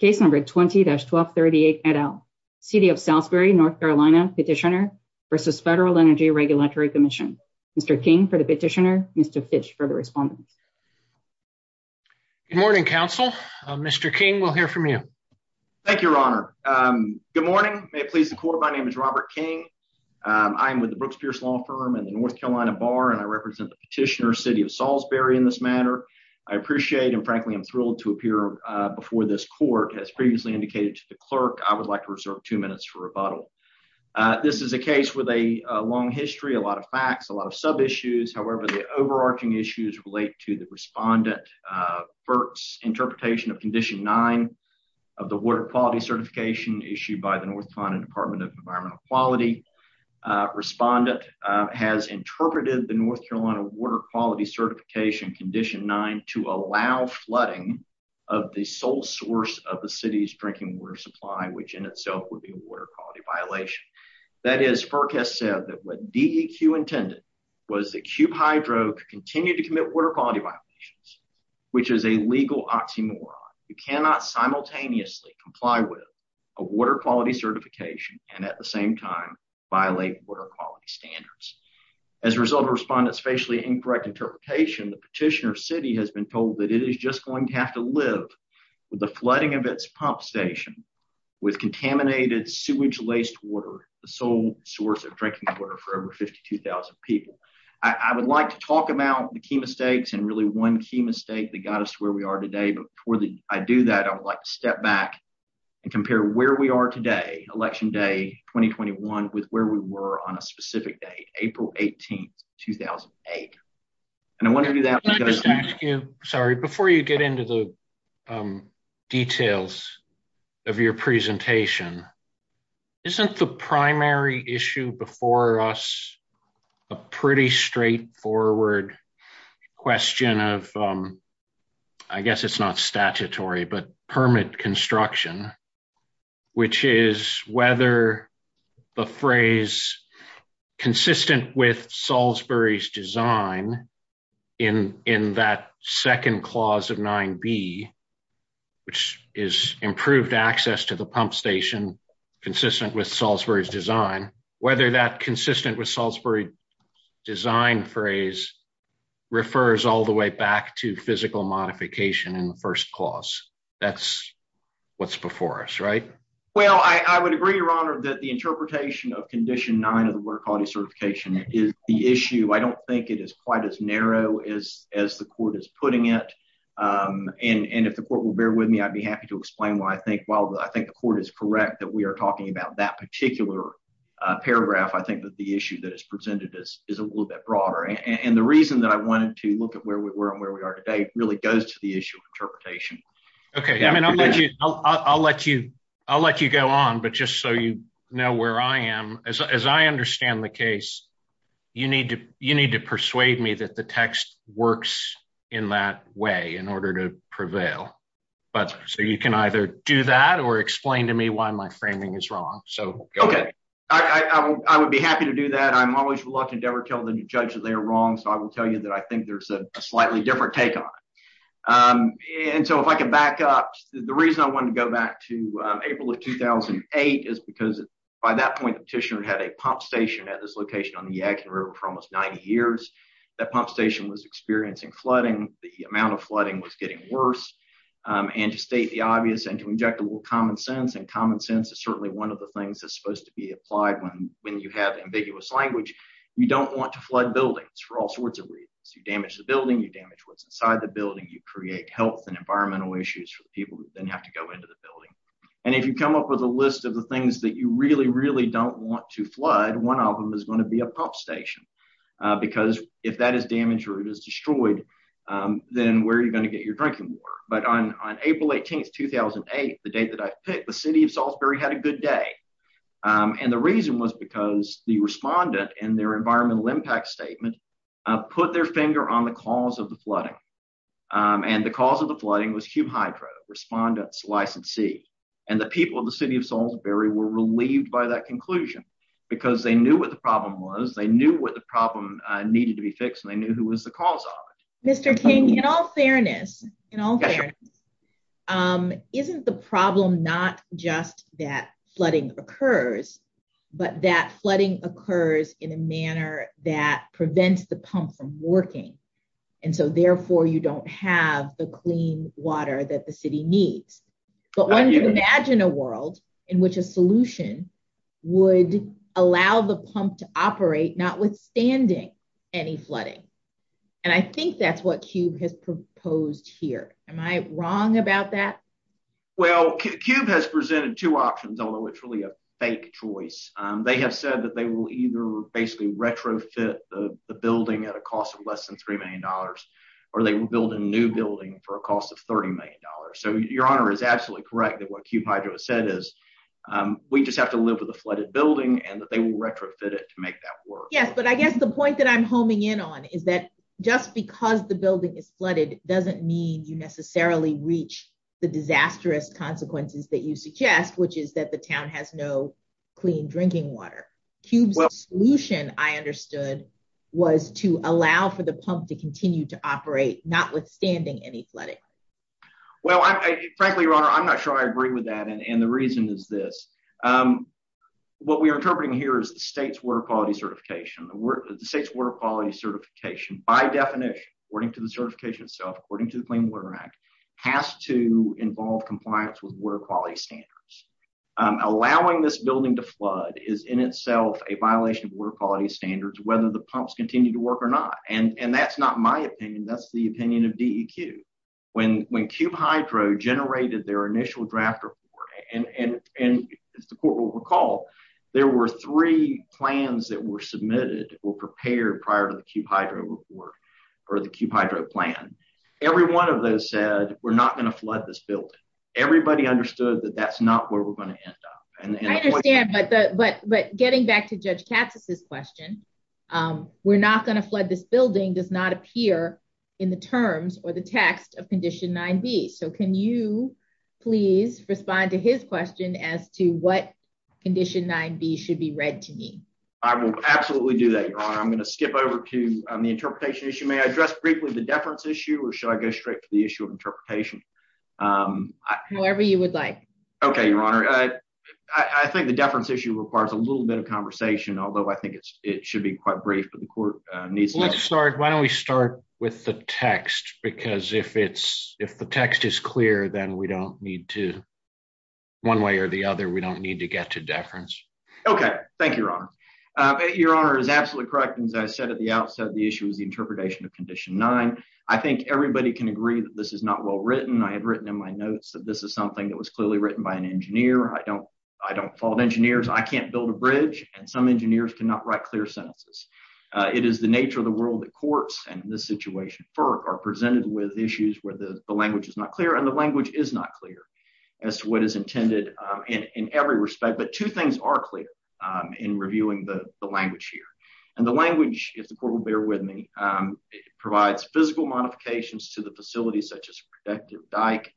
Case number 20-1238 et al. City of Salisbury, North Carolina, Petitioner v. Federal Energy Regulatory Commission. Mr. King for the petitioner, Mr. Fitch for the respondent. Good morning, counsel. Mr. King, we'll hear from you. Thank you, your honor. Good morning. May it please the court, my name is Robert King. I'm with the Brooks Pierce Law Firm and the North Carolina Bar, and I represent the petitioner, City of Salisbury in this matter. I appreciate and frankly am thrilled to appear before this court. As previously indicated to the clerk, I would like to reserve two minutes for rebuttal. This is a case with a long history, a lot of facts, a lot of sub-issues. However, the overarching issues relate to the respondent, FERC's interpretation of Condition 9 of the Water Quality Certification issued by the North Carolina Department of Environmental Quality. Respondent has interpreted the North Carolina Water Quality Certification Condition 9 to allow flooding of the sole source of the city's drinking water supply, which in itself would be a water quality violation. That is, FERC has said that what DEQ intended was that Cube Hydro to continue to commit water quality violations, which is a legal oxymoron. You cannot simultaneously comply with a water quality certification and at the same time violate water quality standards. As a result of respondent's facially incorrect interpretation, the petitioner, City, has been told that it is just going to have to live with the flooding of its pump station with contaminated sewage-laced water, the sole source of drinking water for over 52,000 people. I would like to talk about the key mistakes and really one key mistake that got us to where we are today, but before I do that, I would like to step back and compare where we are today, Election Day 2021, with where we were on a specific date, April 18, 2008. And I want to do that because... details of your presentation. Isn't the primary issue before us a pretty straightforward question of, I guess it's not statutory, but permit construction, which is whether the phrase consistent with Salisbury's design in that second clause of 9B, which is improved access to the pump station consistent with Salisbury's design, whether that consistent with Salisbury's design phrase refers all the way back to physical modification in the first clause? That's what's before us, right? Well, I would agree, Your Honor, that the interpretation of Condition 9 of the Water Quality Certification is the issue. I don't think it is quite as narrow as the Court is putting it, and if the Court will bear with me, I'd be happy to explain why I think, while I think the Court is correct that we are talking about that particular paragraph, I think that the issue that is presented is a little bit broader. And the reason that I wanted to look at where we were and where we are today really goes to the issue of interpretation. Okay, I mean, I'll let you go on, but just so you know where I am, as I understand the case, you need to persuade me that the text works in that way in order to prevail. So you can either do that or explain to me why my framing is wrong. Okay, I would be happy to do that. I'm always lucky to never tell the judge that they're wrong, so I will tell you that I think there's a slightly different take on it. And so if I can back up, the reason I wanted to go back to April of 2008 is because by that point, the petitioner had a pump station at this location on the Yadkin River for almost 90 years. That pump station was experiencing flooding. The amount of flooding was getting worse. And to state the obvious and to inject a little common sense, and common sense is certainly one of the things that's supposed to be applied when you have ambiguous language, you don't want to flood buildings for all sorts of reasons. You damage the building, you damage what's inside the building, you create health and environmental issues for the people who then have to go into the building. And if you come up with a list of the things that you really, really don't want to flood, one of them is going to be a pump station. Because if that is damaged or it is destroyed, then where are you going to get your drinking water? But on April 18, 2008, the date that I picked, the city of Salisbury had a good day. And the reason was because the environmental impact statement put their finger on the cause of the flooding. And the cause of the flooding was Q-Hydro, Respondents Licensee. And the people of the city of Salisbury were relieved by that conclusion because they knew what the problem was, they knew what the problem needed to be fixed, and they knew who was the cause of it. Mr. King, in all fairness, isn't the problem not just that flooding occurs, but that flooding occurs in a manner that prevents the pump from working. And so therefore, you don't have the clean water that the city needs. So imagine a world in which a solution would allow the pump to operate notwithstanding any flooding. And I think that's what Q-Hydro has proposed here. Am I wrong about that? Well, Q-Hydro has presented two options, although it's really a fake choice. They have said that they will either basically retrofit the building at a cost of less than $3 million, or they will build a new building for a cost of $30 million. So your honor is absolutely correct that what Q-Hydro has said is, we just have to live with a flooded building and that they will retrofit it to make that work. Yes, but I guess the point that I'm homing in on is that just because the building is flooded doesn't mean you necessarily reach the disastrous consequences that you suggest, which is that the town has no clean drinking water. Q's solution, I understood, was to allow for the pump to continue to operate notwithstanding any flooding. Well, frankly, your honor, I'm not sure I agree with that, and the reason is this. What we are interpreting here is the state's water quality certification. The state's water quality certification, by definition, according to the certification itself, according to the Clean Water Act, has to involve compliance with water quality standards. Allowing this building to flood is in itself a violation of water quality standards whether the pumps continue to work or not, and that's not my opinion. That's the opinion of DEQ. When Q-Hydro generated their initial draft report, and the court will recall, there were three plans that were submitted that were prepared prior to the Q-Hydro report or the Q-Hydro plan. Every one of those said, we're not going to flood this building. Everybody understood that that's not where we're going to end up. I understand, but getting back to Judge Tappas' question, we're not going to flood this respond to his question as to what Condition 9b should be read to me. I will absolutely do that, your honor. I'm going to skip over to the interpretation issue. May I address briefly the deference issue, or should I go straight to the issue of interpretation? However you would like. Okay, your honor. I think the deference issue requires a little bit of conversation, although I think it should be quite brief. Let's start, why don't we start with the text, because if it's, if the text is clear, then we don't need to, one way or the other, we don't need to get to deference. Okay, thank you, your honor. Your honor is absolutely correct. As I said at the outset, the issue is the interpretation of Condition 9. I think everybody can agree that this is not well written. I had written in my notes that this is something that was clearly written by an engineer. I don't, I don't fault engineers. I can't build a bridge, and some engineers cannot write clear sentences. It is the nature of the world that courts, and in this situation, FERC, are presented with issues where the language is not clear, and the language is not clear as to what is intended in every respect, but two things are clear in reviewing the language here, and the language, if the court will bear with me, provides physical modifications to the facility, such as a protective dike,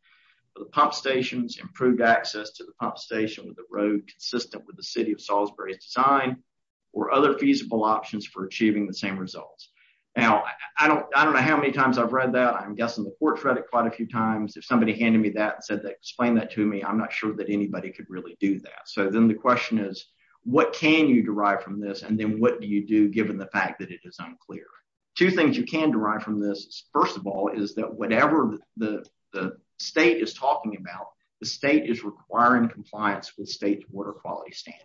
the pump stations, improved access to the pump station with the road system with the city of Salisbury assigned, or other feasible options for achieving the same results. Now, I don't, I don't know how many times I've read that. I'm guessing the court read it quite a few times. If somebody handed me that and said they explained that to me, I'm not sure that anybody could really do that, so then the question is, what can you derive from this, and then what do you do given the fact that it is unclear? Two things you can derive from this, first of all, is that whatever the state is talking about, the state is requiring compliance with state's water quality standards.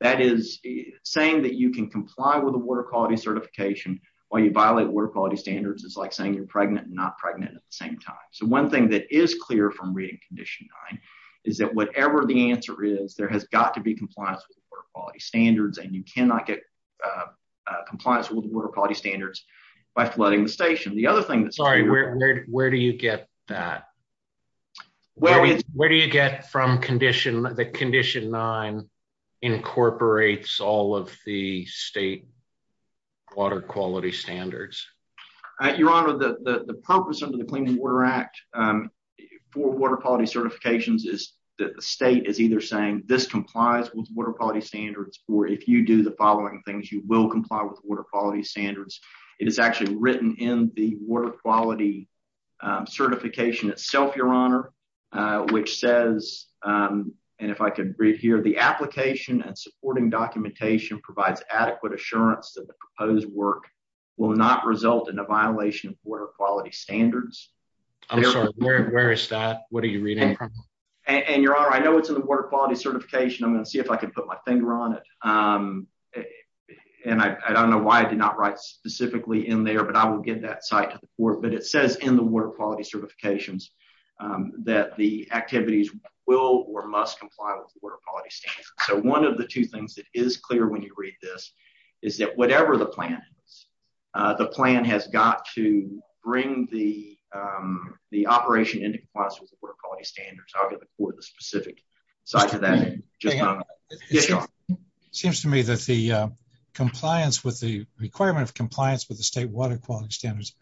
That is, saying that you can comply with the water quality certification while you violate water quality standards is like saying you're pregnant and not pregnant at the same time, so one thing that is clear from reading condition nine is that whatever the answer is, there has got to be compliance with water quality standards, and you cannot get compliance with water quality standards by flooding the station. The other thing that's Where do you get that? What do you get from condition, that condition nine incorporates all of the state water quality standards? Your Honor, the purpose of the Clean Water Act for water quality certifications is that the state is either saying this complies with water quality standards, or if you do the following things, you will comply with water quality standards. It is actually written in the water quality certification itself, Your Honor, which says, and if I can read here, the application and supporting documentation provides adequate assurance that the proposed work will not result in a violation of water quality standards. I'm sorry, where is that? What are you reading? And, Your Honor, I know it's in the water quality certification. I'm going to see if I can put my finger on it, and I don't know why I did not write specifically in there, but I will get that side to the court, but it says in the water quality certifications that the activities will or must comply with water quality standards. So, one of the two things that is clear when you read this is that whatever the plan is, the plan has got to bring the operation into compliance with the water quality standards. I'll get the court the specific side to that. Seems to me that the compliance with the requirement of compliance with the state water quality standards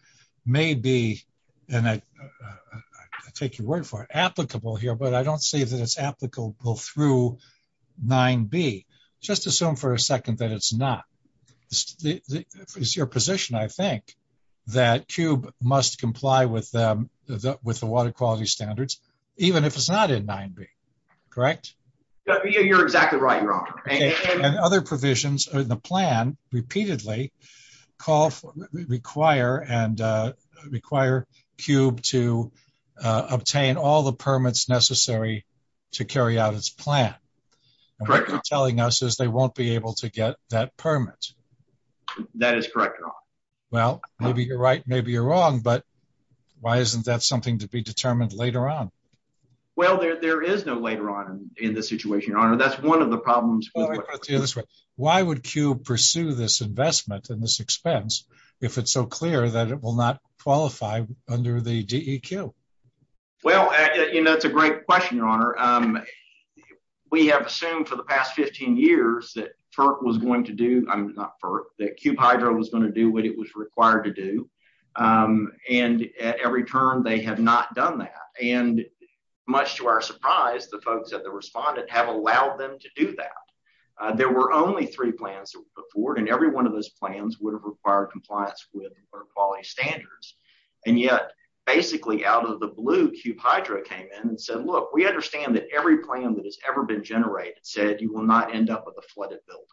may be, and I take your word for it, applicable here, but I don't see that it's applicable through 9b. Just assume for a second that it's not. It's your position, I think, that CUBE must comply with the water quality standards, even if it's not in 9b, correct? You're exactly right, Your Honor. And other provisions in the plan repeatedly call for, require CUBE to obtain all the permits necessary to carry out its plan. Correct. What they're telling us is they won't be able to get that permit. That is correct, Your Honor. Well, maybe you're right, maybe you're wrong, but why isn't that something to be determined later on? Well, there is no later on in this situation, Your Honor. That's one of the problems. Why would CUBE pursue this investment and this expense if it's so clear that it will not qualify under the DEQ? Well, and that's a great question, Your Honor. We have assumed for the past 15 years that FERC was going to do, not FERC, that CUBE Hydro was going to do what it was required to do. And at every term, they have not done that. And much to our surprise, the folks at the respondent have allowed them to do that. There were only three plans before, and every one of those plans would have required compliance with water quality standards. And yet, basically, out of the blue, CUBE Hydro came in and said, look, we understand that every plan that has ever been generated said you will not end up with a flooded building.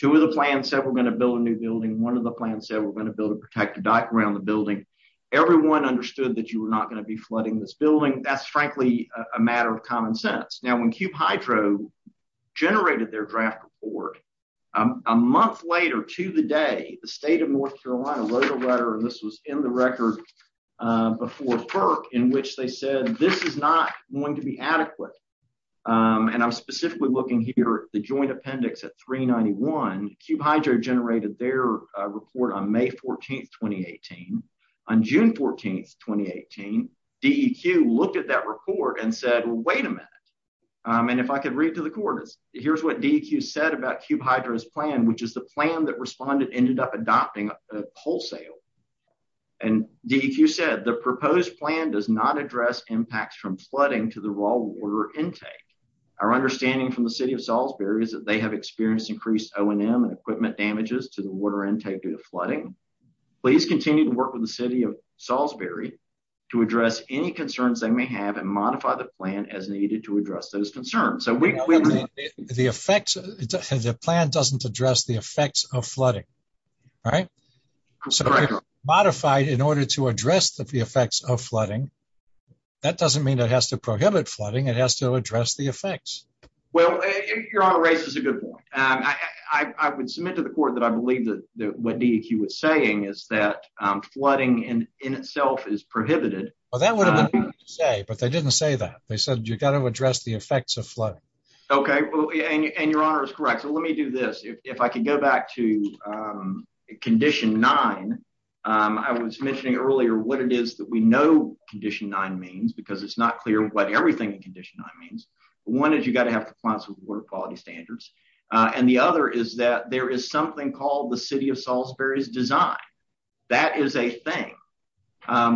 Two of the plans said we're going to build a new building. One of the plans said we're going to build a protected background on the building. Everyone understood that you were not going to be flooding this building. That's, frankly, a matter of common sense. Now, when CUBE Hydro generated their draft report, a month later to the day, the state of Florida, and I'm specifically looking here at the joint appendix at 391, CUBE Hydro generated their report on May 14, 2018. On June 14, 2018, DEQ looked at that report and said, well, wait a minute. And if I could read through the coordinates, here's what DEQ said about CUBE Hydro's plan, which is the plan that respondent ended up adopting wholesale. And DEQ said the proposed plan does not address impacts from flooding to the raw water intake. Our understanding from the city of Salisbury is that they have experienced increased O&M and equipment damages to the water intake due to flooding. Please continue to work with the city of Salisbury to address any concerns they may have and modify the plan as needed to address those concerns. So, we clearly- The plan doesn't address the effects of flooding, right? Correct. Modified in order to address the effects of flooding, that doesn't mean it has to prohibit flooding, it has to address the effects. Well, your honor, race is a good point. I would submit to the court that I believe that what DEQ is saying is that flooding in itself is prohibited. Well, that's what they say, but they didn't say that. They said you've got to address the effects of flooding. Okay, and your honor is correct. So, let me do this. If I can go back to condition nine, I was mentioning earlier what it is that we know condition nine means because it's not clear what everything in condition nine means. One is you've got to have compliance with water quality standards, and the other is that there is something called the city of Salisbury's design. That is a thing.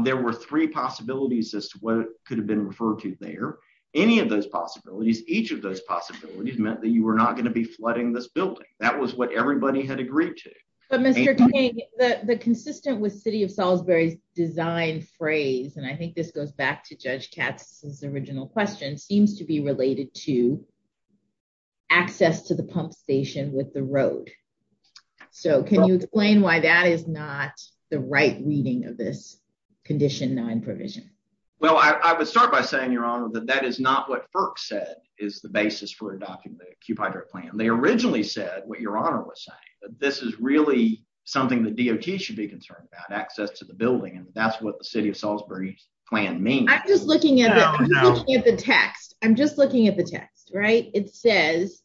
There were three possibilities as to what could have been referred to there. Any of those possibilities, each of those possibilities meant that you were not going to be flooding this building. That was what everybody had agreed to. But, Mr. King, the consistent with city of Salisbury's design phrase, and I think this goes back to Judge Katz's original question, seems to be related to access to the pump station with the road. So, can you explain why that is not the right reading of this condition nine provision? Well, I would start by saying, your honor, that that is not what FERC said is the basis for adopting the plan. They originally said what your honor was saying, that this is really something that DOT should be concerned about, access to the building, and that's what the city of Salisbury's plan means. I'm just looking at the text. I'm just looking at the text, right? It says,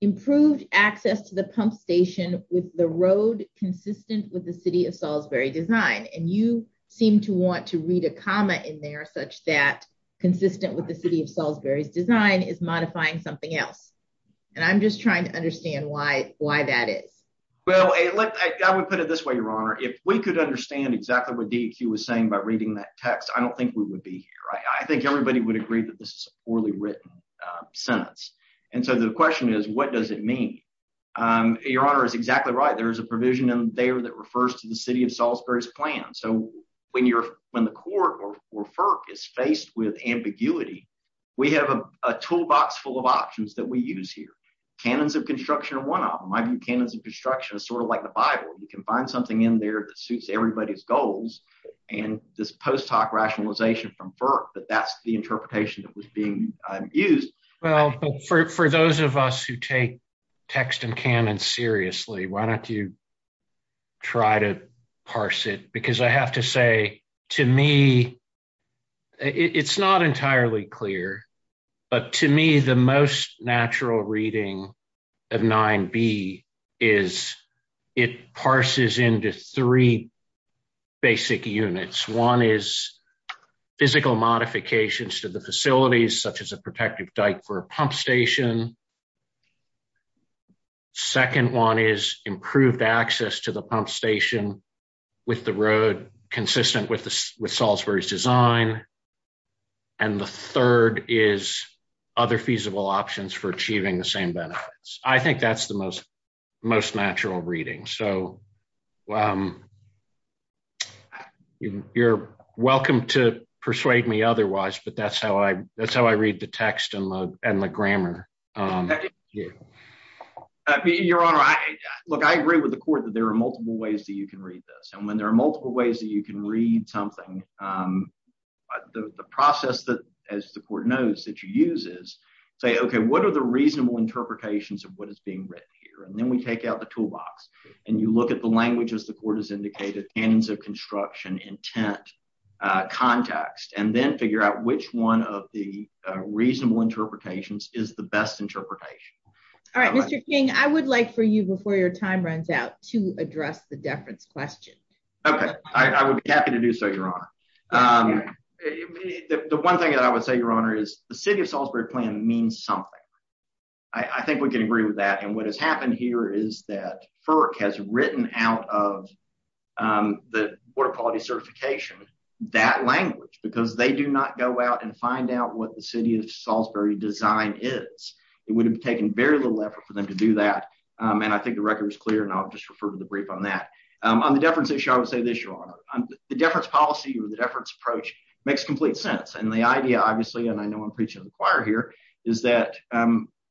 improved access to the pump station with the road consistent with the city of Salisbury design, and you seem to want to read a comma in there such that consistent with the city of Salisbury's design is modifying something else, and I'm just trying to understand why that is. Well, I would put it this way, your honor. If we could understand exactly what DEQ was saying by reading that text, I don't think we would be here. I think everybody would agree that this is a poorly written sentence, and so the question is, what does it mean? Your honor is exactly right. There is a provision in there that refers to the city of Salisbury's plan. So, when the court or FERC is faced with ambiguity, we have a toolbox full of options that we use here. Canons of construction are one of them. I mean, canons of construction are sort of like the bible. You can find something in there that suits everybody's goals, and this post hoc rationalization from FERC that that's the interpretation that was being used. Well, for those of us who take text and canon seriously, why don't you try to parse it? Because I have to say, to me, it's not entirely clear, but to me, the most natural reading of 9b is it parses into three basic units. One is physical modifications to the facilities, such as a protective diaper pump station. Second one is improved access to the pump station with the road consistent with Salisbury's design, and the third is other feasible options for achieving the same benefits. I think that's the most natural reading. So, you're welcome to persuade me otherwise, but that's how I read the text and the grammar. Your honor, look, I agree with the court that there are multiple ways that you can read this, and when there are multiple ways that you can read something, the process that, as the court knows, that you use is say, okay, what are the reasonable interpretations of what is being written here, and then we take out the toolbox, and you look at the language, as the court has indicated, canons of construction, intent, context, and then figure out which one of the reasonable interpretations is the best interpretation. All right, Mr. King, I would like for you, before your time runs out, to address the deference question. Okay, I would be happy to do so, your honor. The one thing that I would say, your honor, is the City of Salisbury plan means something. I think we can agree with that, and what has happened here is that FERC has written out of the Board of Quality Certification that language, because they do not go out and find out what the City of Salisbury design is. It would have taken very little effort for them to do that, and I think the record is clear, and I'll just refer to the brief on that. On the deference issue, I would say this, your honor, the deference policy or the deference approach makes complete sense, and the idea, obviously, and I know I'm preaching to the choir here, is that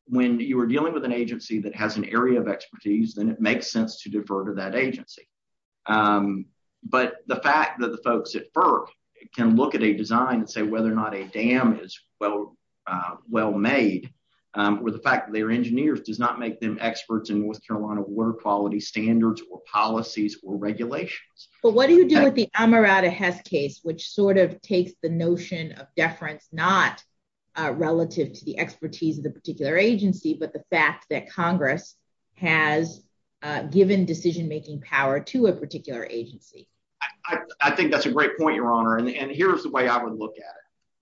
when you are dealing with an agency that has an area of expertise, then it makes sense to defer to that agency. But the fact that the folks at FERC can look at a design and say whether or not a dam is well made, with the fact that they're engineers, does not make them experts in North Carolina water quality standards or policies or regulations. But what do relative to the expertise of the particular agency, but the fact that Congress has given decision-making power to a particular agency? I think that's a great point, your honor, and here's the way I would look at it.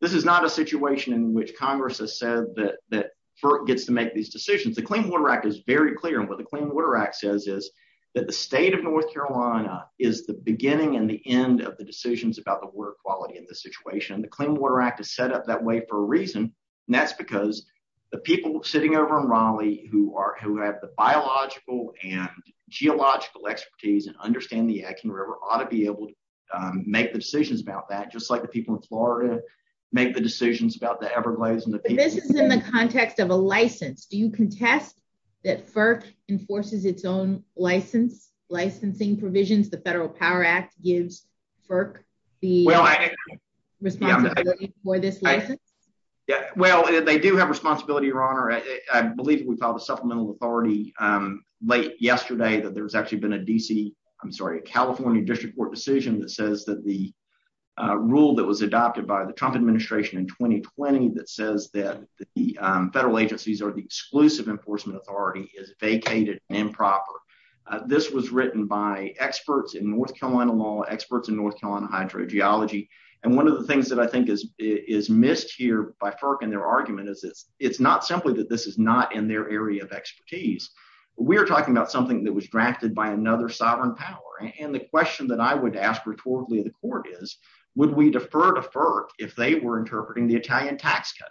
This is not a situation in which Congress has said that FERC gets to make these decisions. The Clean Water Act is very clear, and what the Clean Water Act says is that the state of North Carolina is the beginning and the end of the decisions about the water quality in this situation. The Clean Water Act is set up that way for a reason, and that's because the people sitting over in Raleigh who have the biological and geological expertise and understand the action, ought to be able to make decisions about that, just like the people in Florida make the decisions about the Everglades. This is in the context of a license. Do you contest that FERC enforces its own licensing provisions? The Federal Power Act gives FERC the responsibility for this license? Yeah, well, they do have responsibility, your honor. I believe we called the Supplemental Authority late yesterday that there's actually been a DC, I'm sorry, a California district court decision that says that the rule that was adopted by the Trump administration in 2020 that says that the federal agencies or the exclusive enforcement authority is vacated and improper. This was written by experts in North Carolina law, experts in North Carolina hydrogeology, one of the things that I think is missed here by FERC and their argument is it's not simply that this is not in their area of expertise. We're talking about something that was drafted by another sovereign power, and the question that I would ask reportedly the court is, would we defer to FERC if they were interpreting the Italian tax code?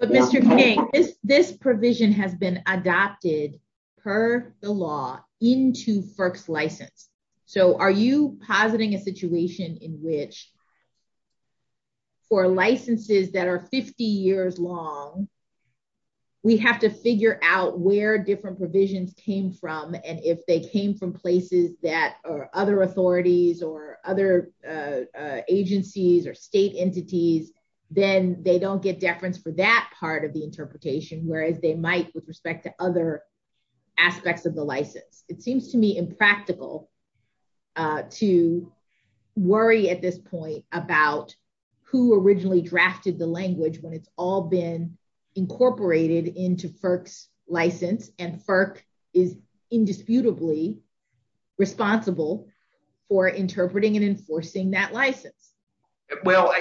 But Mr. King, this provision has been adopted per the law into FERC's license, so are you positing a situation in which for licenses that are 50 years long, we have to figure out where different provisions came from, and if they came from places that are other authorities or other agencies or state entities, then they don't get deference for that part of the interpretation, whereas they might with who originally drafted the language when it's all been incorporated into FERC's license, and FERC is indisputably responsible for interpreting and enforcing that license. Well,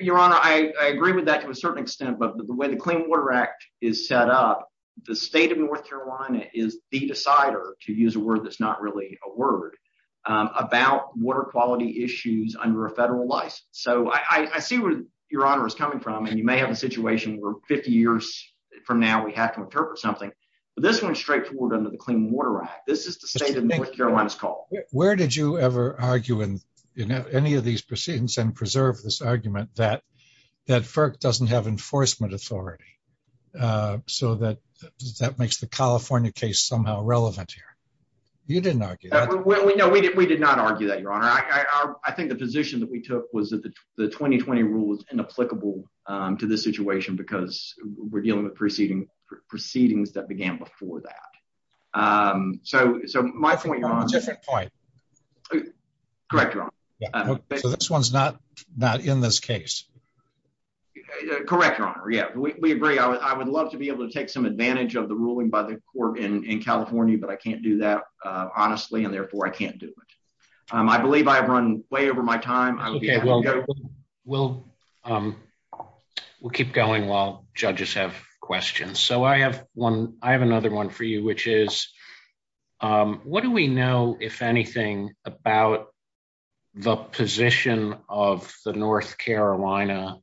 your honor, I agree with that to a certain extent, but when the Clean Water Act is set up, the state of North Carolina is the decider, to use a word that's not really a word, about water quality issues under a federal license. So I see where your honor is coming from, and you may have a situation where 50 years from now we have to interpret something, but this one's straightforward under the Clean Water Act. This is the state of North Carolina's call. Where did you ever argue in any of these proceedings and preserve this argument that FERC doesn't have enforcement authority, so that that makes the California case somehow relevant here? You didn't argue that. Well, no, we did not argue that, your honor. I think the position that we took was that the 2020 rule is inapplicable to this situation because we're dealing with proceedings that began before that. So my point, your honor. So this one's not in this case? Correct, your honor. Yeah, we agree. I would love to be able to take some advantage of the ruling by the court in California, but I can't do that honestly, and therefore I can't do it. I believe I've run way over my time. Okay, we'll keep going while judges have questions. So I have another one for you, which is, what do we know, if anything, about the position of the North Carolina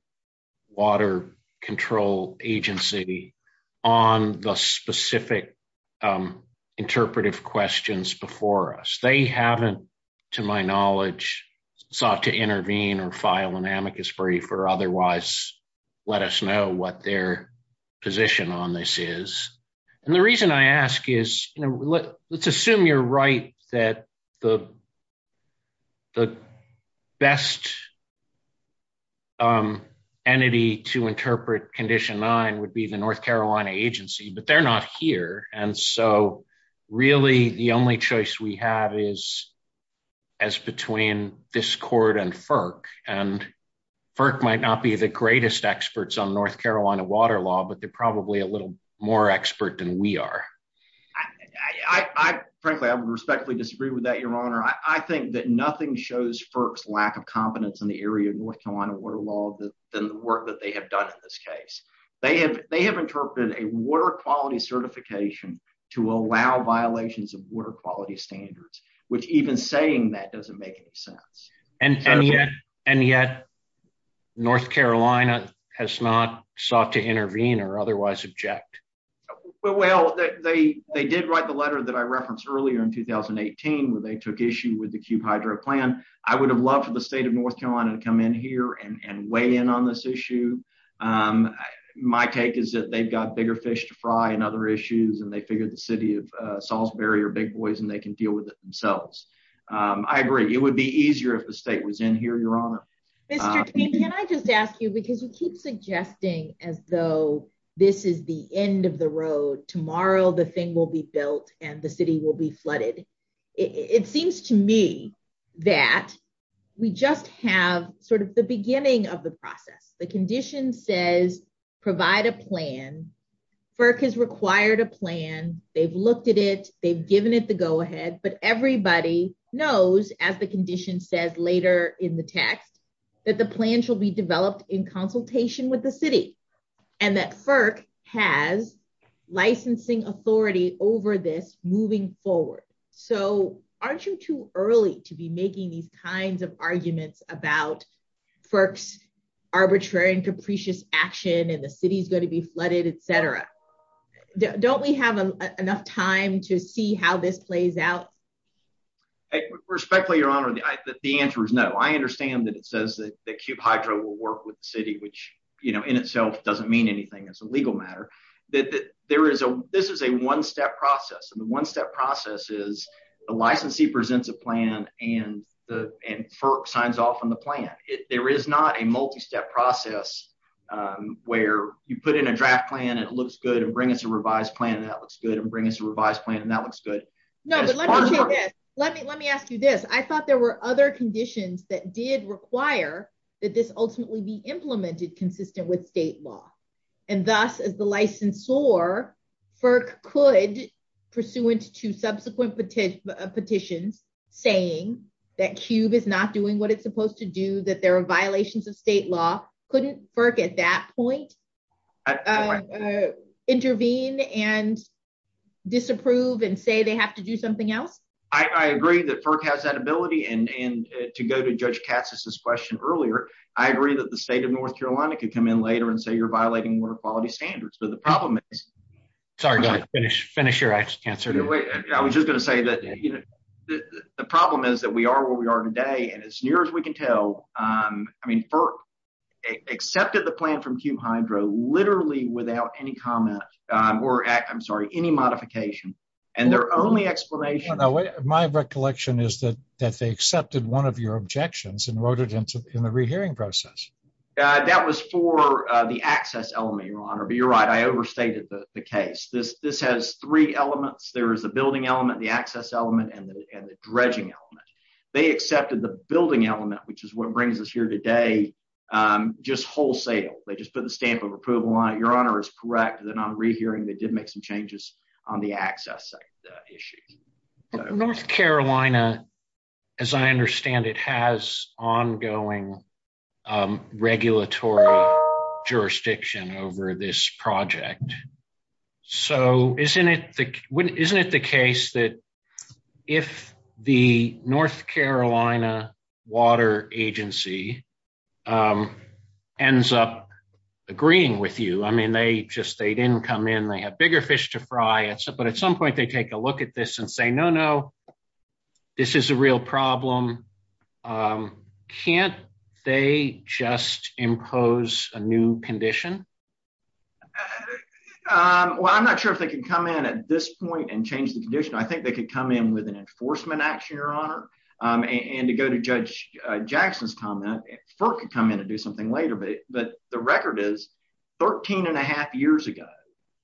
Water Control Agency on the specific interpretive questions before us? They haven't, to my knowledge, sought to intervene or file an amicus brief or otherwise let us know what their position on this is. And the reason I ask is, let's assume you're right that the best entity to interpret Condition 9 would be the North Carolina Agency, but they're not here. And so really the only choice we have is as between this court and FERC. And FERC might not be the greatest experts on North Carolina water law, but they're probably a little more expert than we are. I frankly, I respectfully disagree with that, Your Honor. I think that nothing shows FERC's lack of competence in the area of North Carolina water law than the work that they have done in this case. They have interpreted a water quality certification to allow violations of water quality standards, which even saying that doesn't make any sense. And yet North Carolina has not sought to intervene or otherwise object. Well, they did write the letter that I referenced earlier in 2018 where they took issue with the Kew Hydro Plan. I would have loved for the state of North Carolina to come in here and weigh in on this issue. My take is that they've got bigger fish to fry and other issues and they figure the city of Salisbury are big boys and they can deal with it themselves. I agree. It would be easier if the state was in here, Your Honor. Mr. King, can I just ask you, because you keep suggesting as though this is the end of the road. Tomorrow the thing will be built and the city will be flooded. It seems to me that we just have sort of the beginning of the process. The condition says provide a plan. FERC has required a plan. They've looked at it. They've given it the go ahead, but everybody knows, as the condition says later in the text, that the plan shall be developed in consultation with the city and that FERC has licensing authority over this moving forward. So aren't you too early to be making these kinds of arguments about FERC's arbitrary and capricious action and the city's going to be flooded, etc. Don't we have enough time to see how this plays out? Respectfully, Your Honor, the answer is no. I understand that it says that Cube Hydro will work with the city, which in itself doesn't mean anything. It's a legal matter. This is a one-step process and the one-step process is the licensee presents a plan and FERC signs off on the plan. There is not a multi-step process where you put in a draft plan, it looks good, and bring us a revised plan, and that looks good, and bring us a revised plan, and that looks good. No, but let me ask you this. I thought there were other conditions that did require that this ultimately be implemented consistent with state law. And thus, as the licensor, FERC could, pursuant to subsequent petitions saying that Cube is not doing what it's supposed to do, that there are violations of state law, couldn't FERC at that point intervene and disapprove and say they have to do something else? I agree that FERC has that ability and to go to Judge Cassis's question earlier, I agree that the state of North Carolina could come in later and say you're violating water quality standards, but the problem is... Sorry, go ahead. Finish your answer. I was just going to say that the problem is that we are where we are today and as near as we can tell, I mean, FERC accepted the plan from Cube Hydro literally without any comment or, I'm sorry, any modification, and their only explanation... My recollection is that they accepted one of your objections and wrote it in the rehearing process. That was for the access element, Your Honor, but you're right. I overstated the case. This has three elements. There is the building element, the access element, and the dredging element. They accepted the building element, which is what brings us here today, just wholesale. They just put the stamp of approval on it. Your Honor is correct that on the rehearing, they did make some changes on the access issue. North Carolina, as I understand, it has ongoing regulatory jurisdiction over this project, so isn't it the case that if the North Carolina Water Agency ends up agreeing with you, I mean, they just didn't come in. They have bigger fish to fry, but at some point, they take a look at this and say, no, no, this is a real problem. Can't they just impose a new condition? Well, I'm not sure if they can come in at this point and change the condition. I think they could come in with an enforcement action, Your Honor, and to go to Judge Jackson's comment, FERC could come in and do something later, but the record is 13 1⁄2 years ago,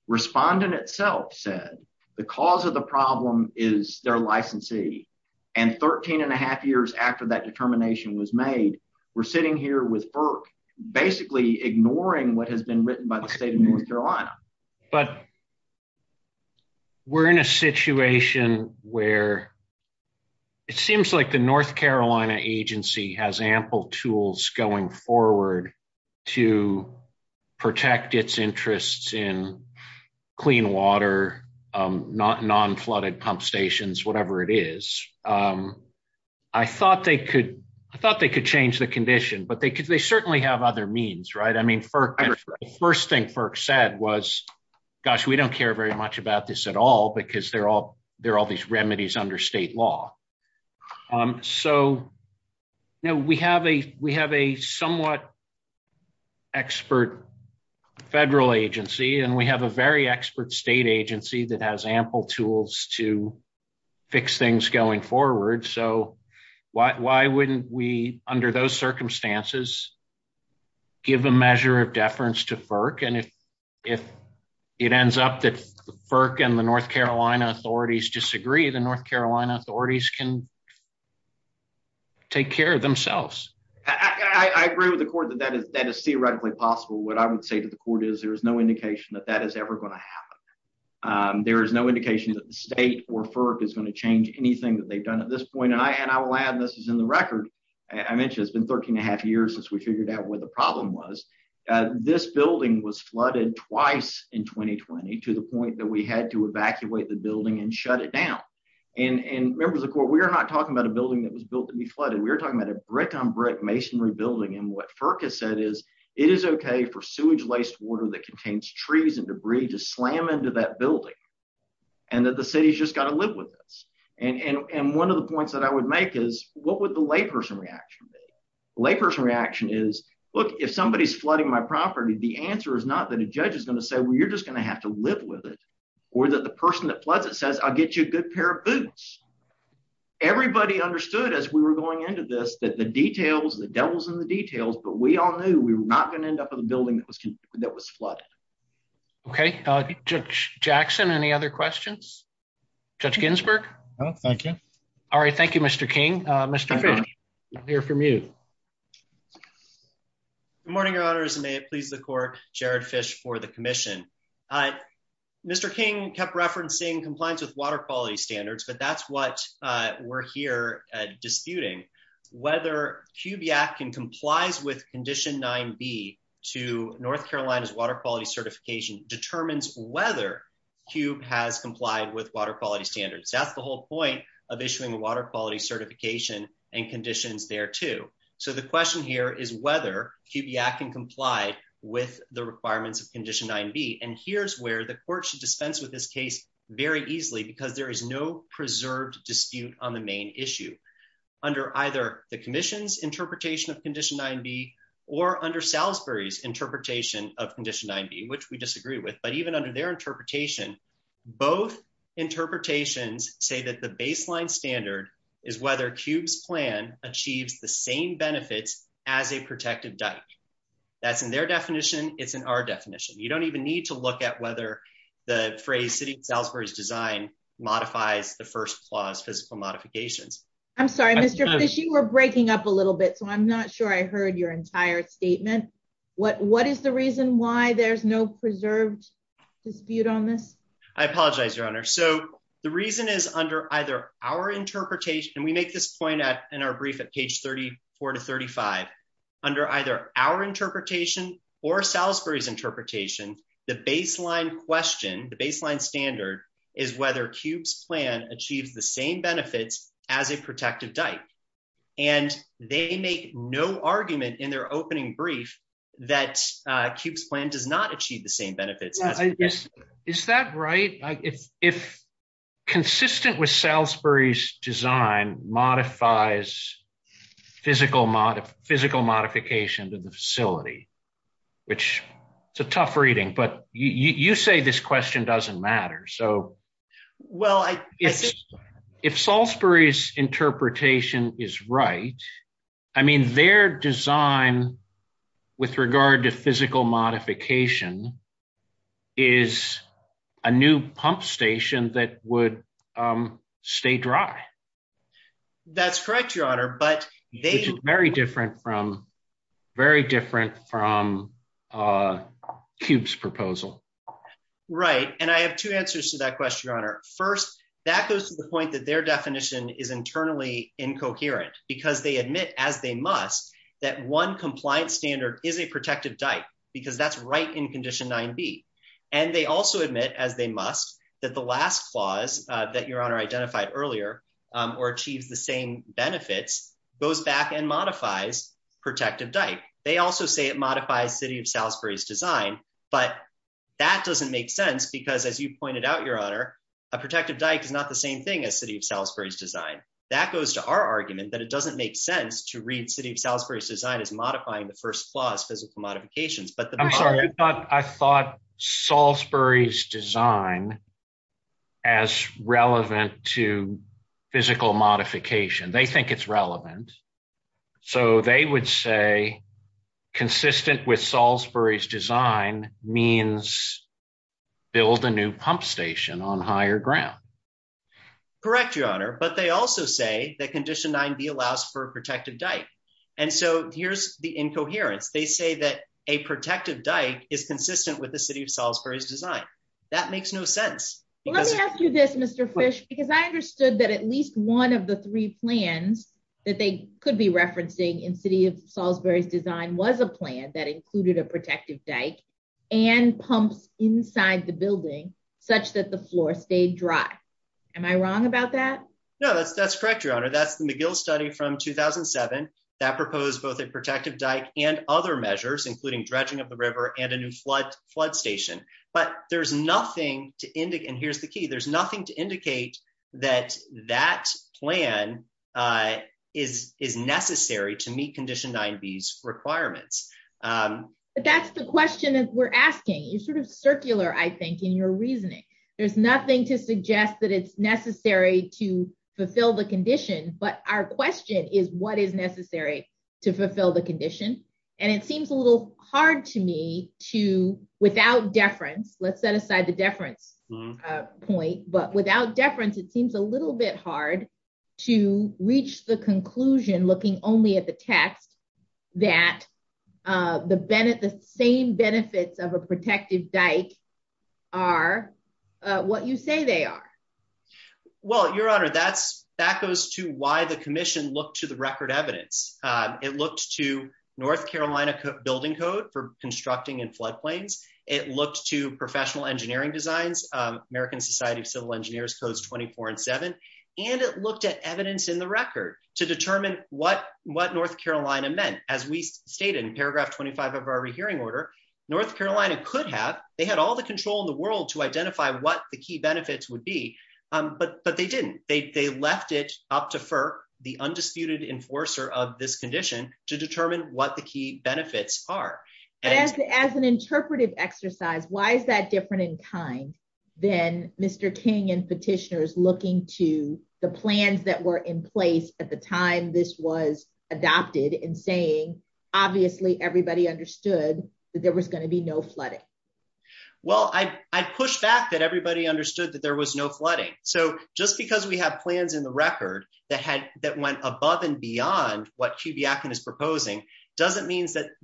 Respondent itself said the cause of the problem is their licensee, and 13 1⁄2 years after that determination was made, we're sitting here with FERC basically ignoring what has been where it seems like the North Carolina Agency has ample tools going forward to protect its interests in clean water, non-flooded pump stations, whatever it is. I thought they could change the condition, but they certainly have other means, right? I mean, the first thing FERC said was, gosh, we don't care very much about this at all because there are all these remedies under state law. So, we have a somewhat expert federal agency, and we have a very expert state agency that has ample tools to fix things going forward, so why wouldn't we, under those if it ends up that FERC and the North Carolina authorities disagree, the North Carolina authorities can take care of themselves? I agree with the Court that that is theoretically possible. What I would say to the Court is there is no indication that that is ever going to happen. There is no indication that the state or FERC is going to change anything that they've done at this point, and I will add, and this is in the record, I mentioned it's been 13 1⁄2 years since we was flooded twice in 2020 to the point that we had to evacuate the building and shut it down, and members of the Court, we are not talking about a building that was built to be flooded. We are talking about a brick-on-brick masonry building, and what FERC has said is it is okay for sewage laced water that contains trees and debris to slam into that building, and that the city's just got to live with this, and one of the points that I would make is what would the layperson reaction be? The layperson reaction is, look, if somebody is flooding my property, the answer is not that a judge is going to say, well, you're just going to have to live with it, or that the person that floods it says, I'll get you a good pair of boots. Everybody understood as we were going into this that the details, the devil's in the details, but we all knew we were not going to end up with a building that was flooded. Okay, Judge Jackson, any other questions? Judge Ginsburg? No, thank you. All right, thank you, Mr. King. Mr. Fish, we'll hear from you. Good morning, Your Honors, and may it please the Court, Jared Fish for the Commission. Mr. King kept referencing compliance with water quality standards, but that's what we're here disputing. Whether CUBE-Yak-Kin complies with Condition 9b to North Carolina's water quality certification determines whether CUBE has complied with water quality standards. That's the whole point of issuing water quality certification and conditions there, too. So, the question here is whether CUBE-Yak-Kin complies with the requirements of Condition 9b, and here's where the Court should dispense with this case very easily, because there is no preserved dispute on the main issue. Under either the Commission's interpretation of Condition 9b, or under Salisbury's interpretation of Condition 9b, which we disagree with, but even under their interpretations, say that the baseline standard is whether CUBE's plan achieves the same benefits as a protected duct. That's in their definition. It's in our definition. You don't even need to look at whether the phrase City of Salisbury's design modifies the first clause physical modification. I'm sorry, Mr. Fish, you were breaking up a little bit, so I'm not sure I heard your entire statement. What is the reason why there's no preserved dispute on this? I the reason is under either our interpretation, and we make this point in our brief at page 34 to 35, under either our interpretation or Salisbury's interpretation, the baseline question, the baseline standard, is whether CUBE's plan achieves the same benefits as a protected duct, and they make no argument in their opening brief that CUBE's plan does not achieve the same benefits. Is that right? If consistent with Salisbury's design modifies physical modification to the facility, which it's a tough reading, but you say this question doesn't matter. So, well, if Salisbury's interpretation is right, I mean, their design with regard to physical modification is a new pump station that would stay dry. That's correct, Your Honor, but they It's very different from, very different from CUBE's proposal. Right, and I have two answers to that question, Your Honor. First, that goes to the point that their definition is internally incoherent because they admit, as they must, that one compliance standard is a protected dike, because that's right in Condition 9b, and they also admit, as they must, that the last clause that Your Honor identified earlier, or achieves the same benefits, goes back and modifies protective dike. They also say it modifies City of Salisbury's design, but that doesn't make sense because, as you pointed out, Your Honor, a protective dike is not the same thing as City of Salisbury's design. That goes to our argument that it doesn't make sense to read City of Salisbury's design as modifying the first clause physical modifications. I'm sorry, I thought Salisbury's design as relevant to physical modification. They think it's relevant, so they would say consistent with Salisbury's design means build a new pump station on higher ground. Correct, Your Honor, but they also say that Condition 9b allows for a protective dike, and so here's the incoherence. They say that a protective dike is consistent with the City of Salisbury's design. That makes no sense. Let me ask you this, Mr. Fish, because I understood that at least one of the three plans that they could be referencing in City of Salisbury's design was a plan that included a protective dike and pumps inside the building such that the floor stayed dry. Am I wrong about that? No, that's correct, Your Honor. That's McGill's study from 2007 that proposed both a protective dike and other measures including dredging of the river and a new flood station, but there's nothing to indicate, and here's the key, there's nothing to indicate that that plan is necessary to meet Condition 9b's requirements. That's the question that we're asking. It's sort of circular, I think, in your reasoning. There's nothing to suggest that it's necessary to fulfill the condition, and it seems a little hard to me to, without deference, let's set aside the deference point, but without deference it seems a little bit hard to reach the conclusion, looking only at the text, that the same benefits of a protective dike are what you say they are. Well, Your Honor, that goes to why the Commission looked to the record evidence. It looked to North Carolina building code for constructing in floodplains. It looked to professional engineering designs, American Society of Civil Engineers codes 24 and 7, and it looked at evidence in the record to determine what North Carolina meant. As we stated in paragraph 25 of our rehearing order, North Carolina could have, they had all the control in the world to identify what the key benefits would be, but they didn't. They left it up to FERC, the undisputed enforcer of this condition, to determine what the key benefits are. As an interpretive exercise, why is that different in time than Mr. King and petitioners looking to the plans that were in place at the time this was adopted and saying, obviously, everybody understood that there was going to be no flooding? Well, I push back that everybody understood that there was no flooding. So just because we have plans in the record that went above and beyond what TBF is proposing doesn't mean that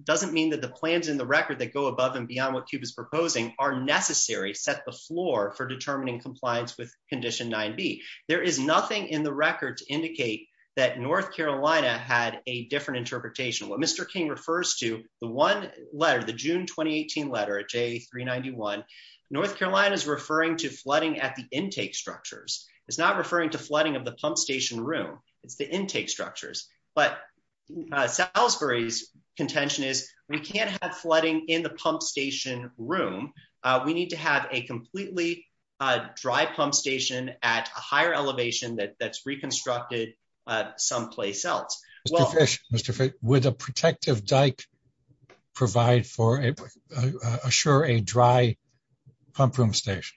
the plans in the record that go above and beyond what TBF is proposing are necessary, set the floor for determining compliance with Condition 9B. There is nothing in the record to indicate that North Carolina had a different interpretation. What Mr. King refers to, the one letter, the June 2018 letter, J391, North Carolina is referring to flooding at the intake structures. It's not referring to flooding of the pump station room. It's the intake structures. But Salisbury's contention is we can't have flooding in the pump station room. We need to have a completely dry pump station at a higher elevation that's reconstructed someplace else. Mr. Fish, would a protective dike provide for, assure a dry pump room station?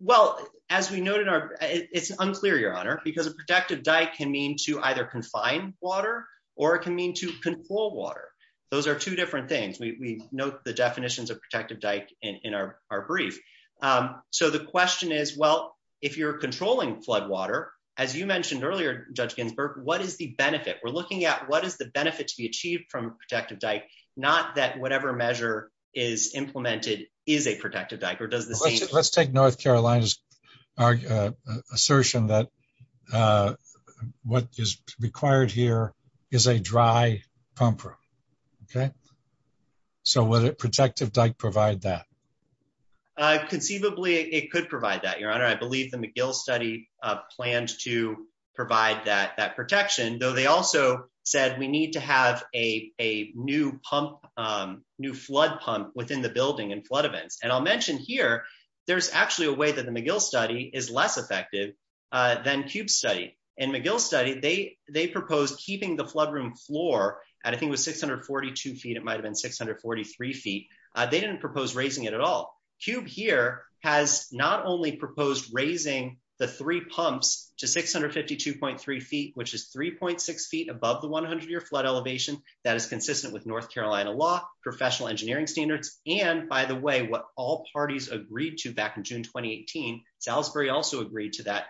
Well, as we noted, it's unclear, Your Honor, because a protective dike can mean to either confine water or it can mean to control water. Those are two different things. We note the definitions of protective dike in our brief. So the question is, well, if you're controlling flood water, as you mentioned earlier, Judge Ginsburg, what is the benefit? We're looking at what is the benefit to be achieved from a protective dike, not that whatever measure is implemented is a protective dike. Let's take North Carolina's assertion that what is required here is a dry pump room. So would a protective dike provide that? Conceivably, it could provide that, Your Honor. I believe the McGill study plans to provide that protection, though they also said we need to have a new pump, new flood pump within the building in flood events. And I'll mention here, there's actually a way that the McGill study is less effective than Cube's study. In McGill's study, they proposed keeping the flood room floor at, I think it was 642 feet, it might have been 643 feet. They didn't propose raising it at all. Cube here has not only proposed raising the three that is consistent with North Carolina law, professional engineering standards, and by the way, what all parties agreed to back in June 2018, Salisbury also agreed to that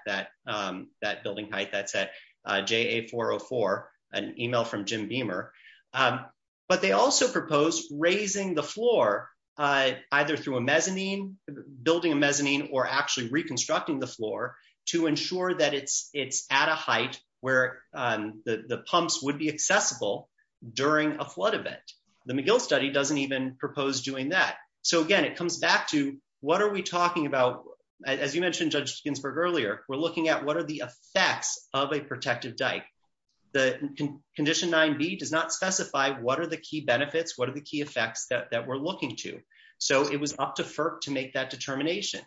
building height, that's a JA404, an email from Jim Beamer. But they also proposed raising the floor, either through a mezzanine, building a mezzanine, or actually reconstructing the floor to ensure that it's at a height where the pumps would be accessible during a flood event. The McGill study doesn't even propose doing that. So again, it comes back to, what are we talking about? As you mentioned, Judge Ginsburg earlier, we're looking at what are the effects of a protected dike. The Condition 9b does not specify what are the key benefits, what are the key effects that we're looking to. So it was up to FERC to make that determination.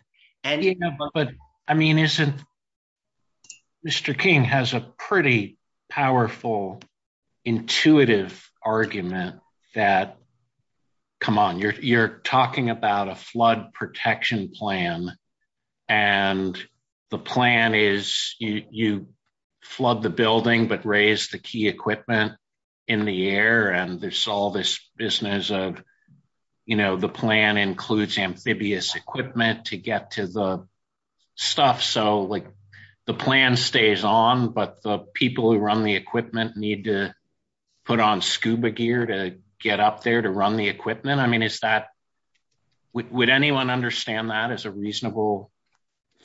But I mean, Mr. King has a pretty powerful, intuitive argument that, come on, you're talking about a flood protection plan, and the plan is you flood the building but raise the key equipment in the air, and there's all this business of, you know, the plan includes amphibious equipment to get to the stuff. So like, the plan stays on, but the people who run the equipment need to put on scuba gear to get up there to run the equipment. I mean, is that, would anyone understand that as a reasonable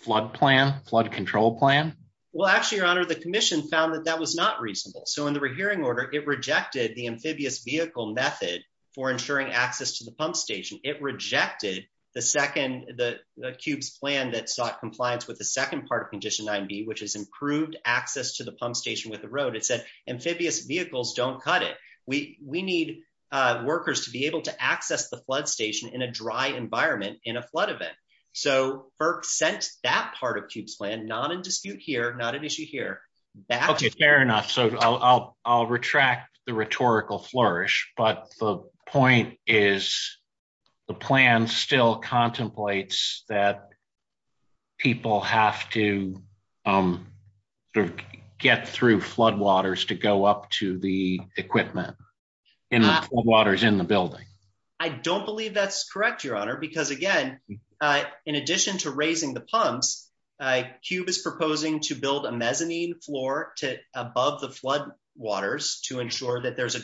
flood plan, flood control plan? Well, actually, Your Honor, the Commission found that that was not reasonable. So in the hearing order, it rejected the amphibious vehicle method for ensuring access to the pump station. It rejected the second, the CUBE's plan that sought compliance with the second part of Condition 9b, which is improved access to the pump station with the road. It said amphibious vehicles don't cut it. We need workers to be able to access the flood station in a dry environment in a flood event. So FERC sent that part of CUBE's plan, not in dispute here, not an issue here. Okay, fair enough. So I'll retract the rhetorical flourish, but the point is the plan still contemplates that people have to get through floodwaters to go up to the equipment in the floodwaters in the building. I don't believe that's correct, Your Honor, because again, in addition to raising the pumps, CUBE is proposing to build a mezzanine floor to above the floodwaters to ensure that there's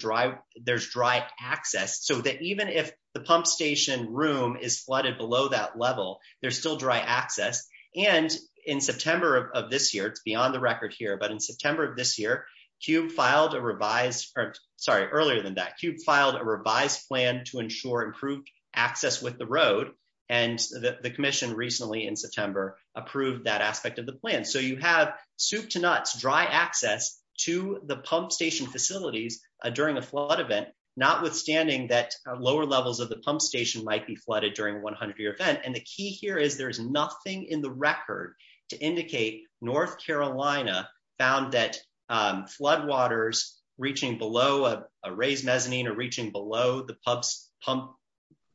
dry access, so that even if the pump station room is flooded below that level, there's still dry access. And in September of this year, it's beyond the record here, but in September of this year, CUBE filed a revised, sorry, earlier than that, CUBE filed a revised plan to ensure improved access with the road, and the Commission recently in September approved that aspect of the plan. So you have soup to nuts dry access to the pump station facilities during a flood event, notwithstanding that lower levels of the pump station might be flooded during a 100-year event. And the key here is there's nothing in the record to indicate North Carolina found that floodwaters reaching below a raised mezzanine or reaching below the pump,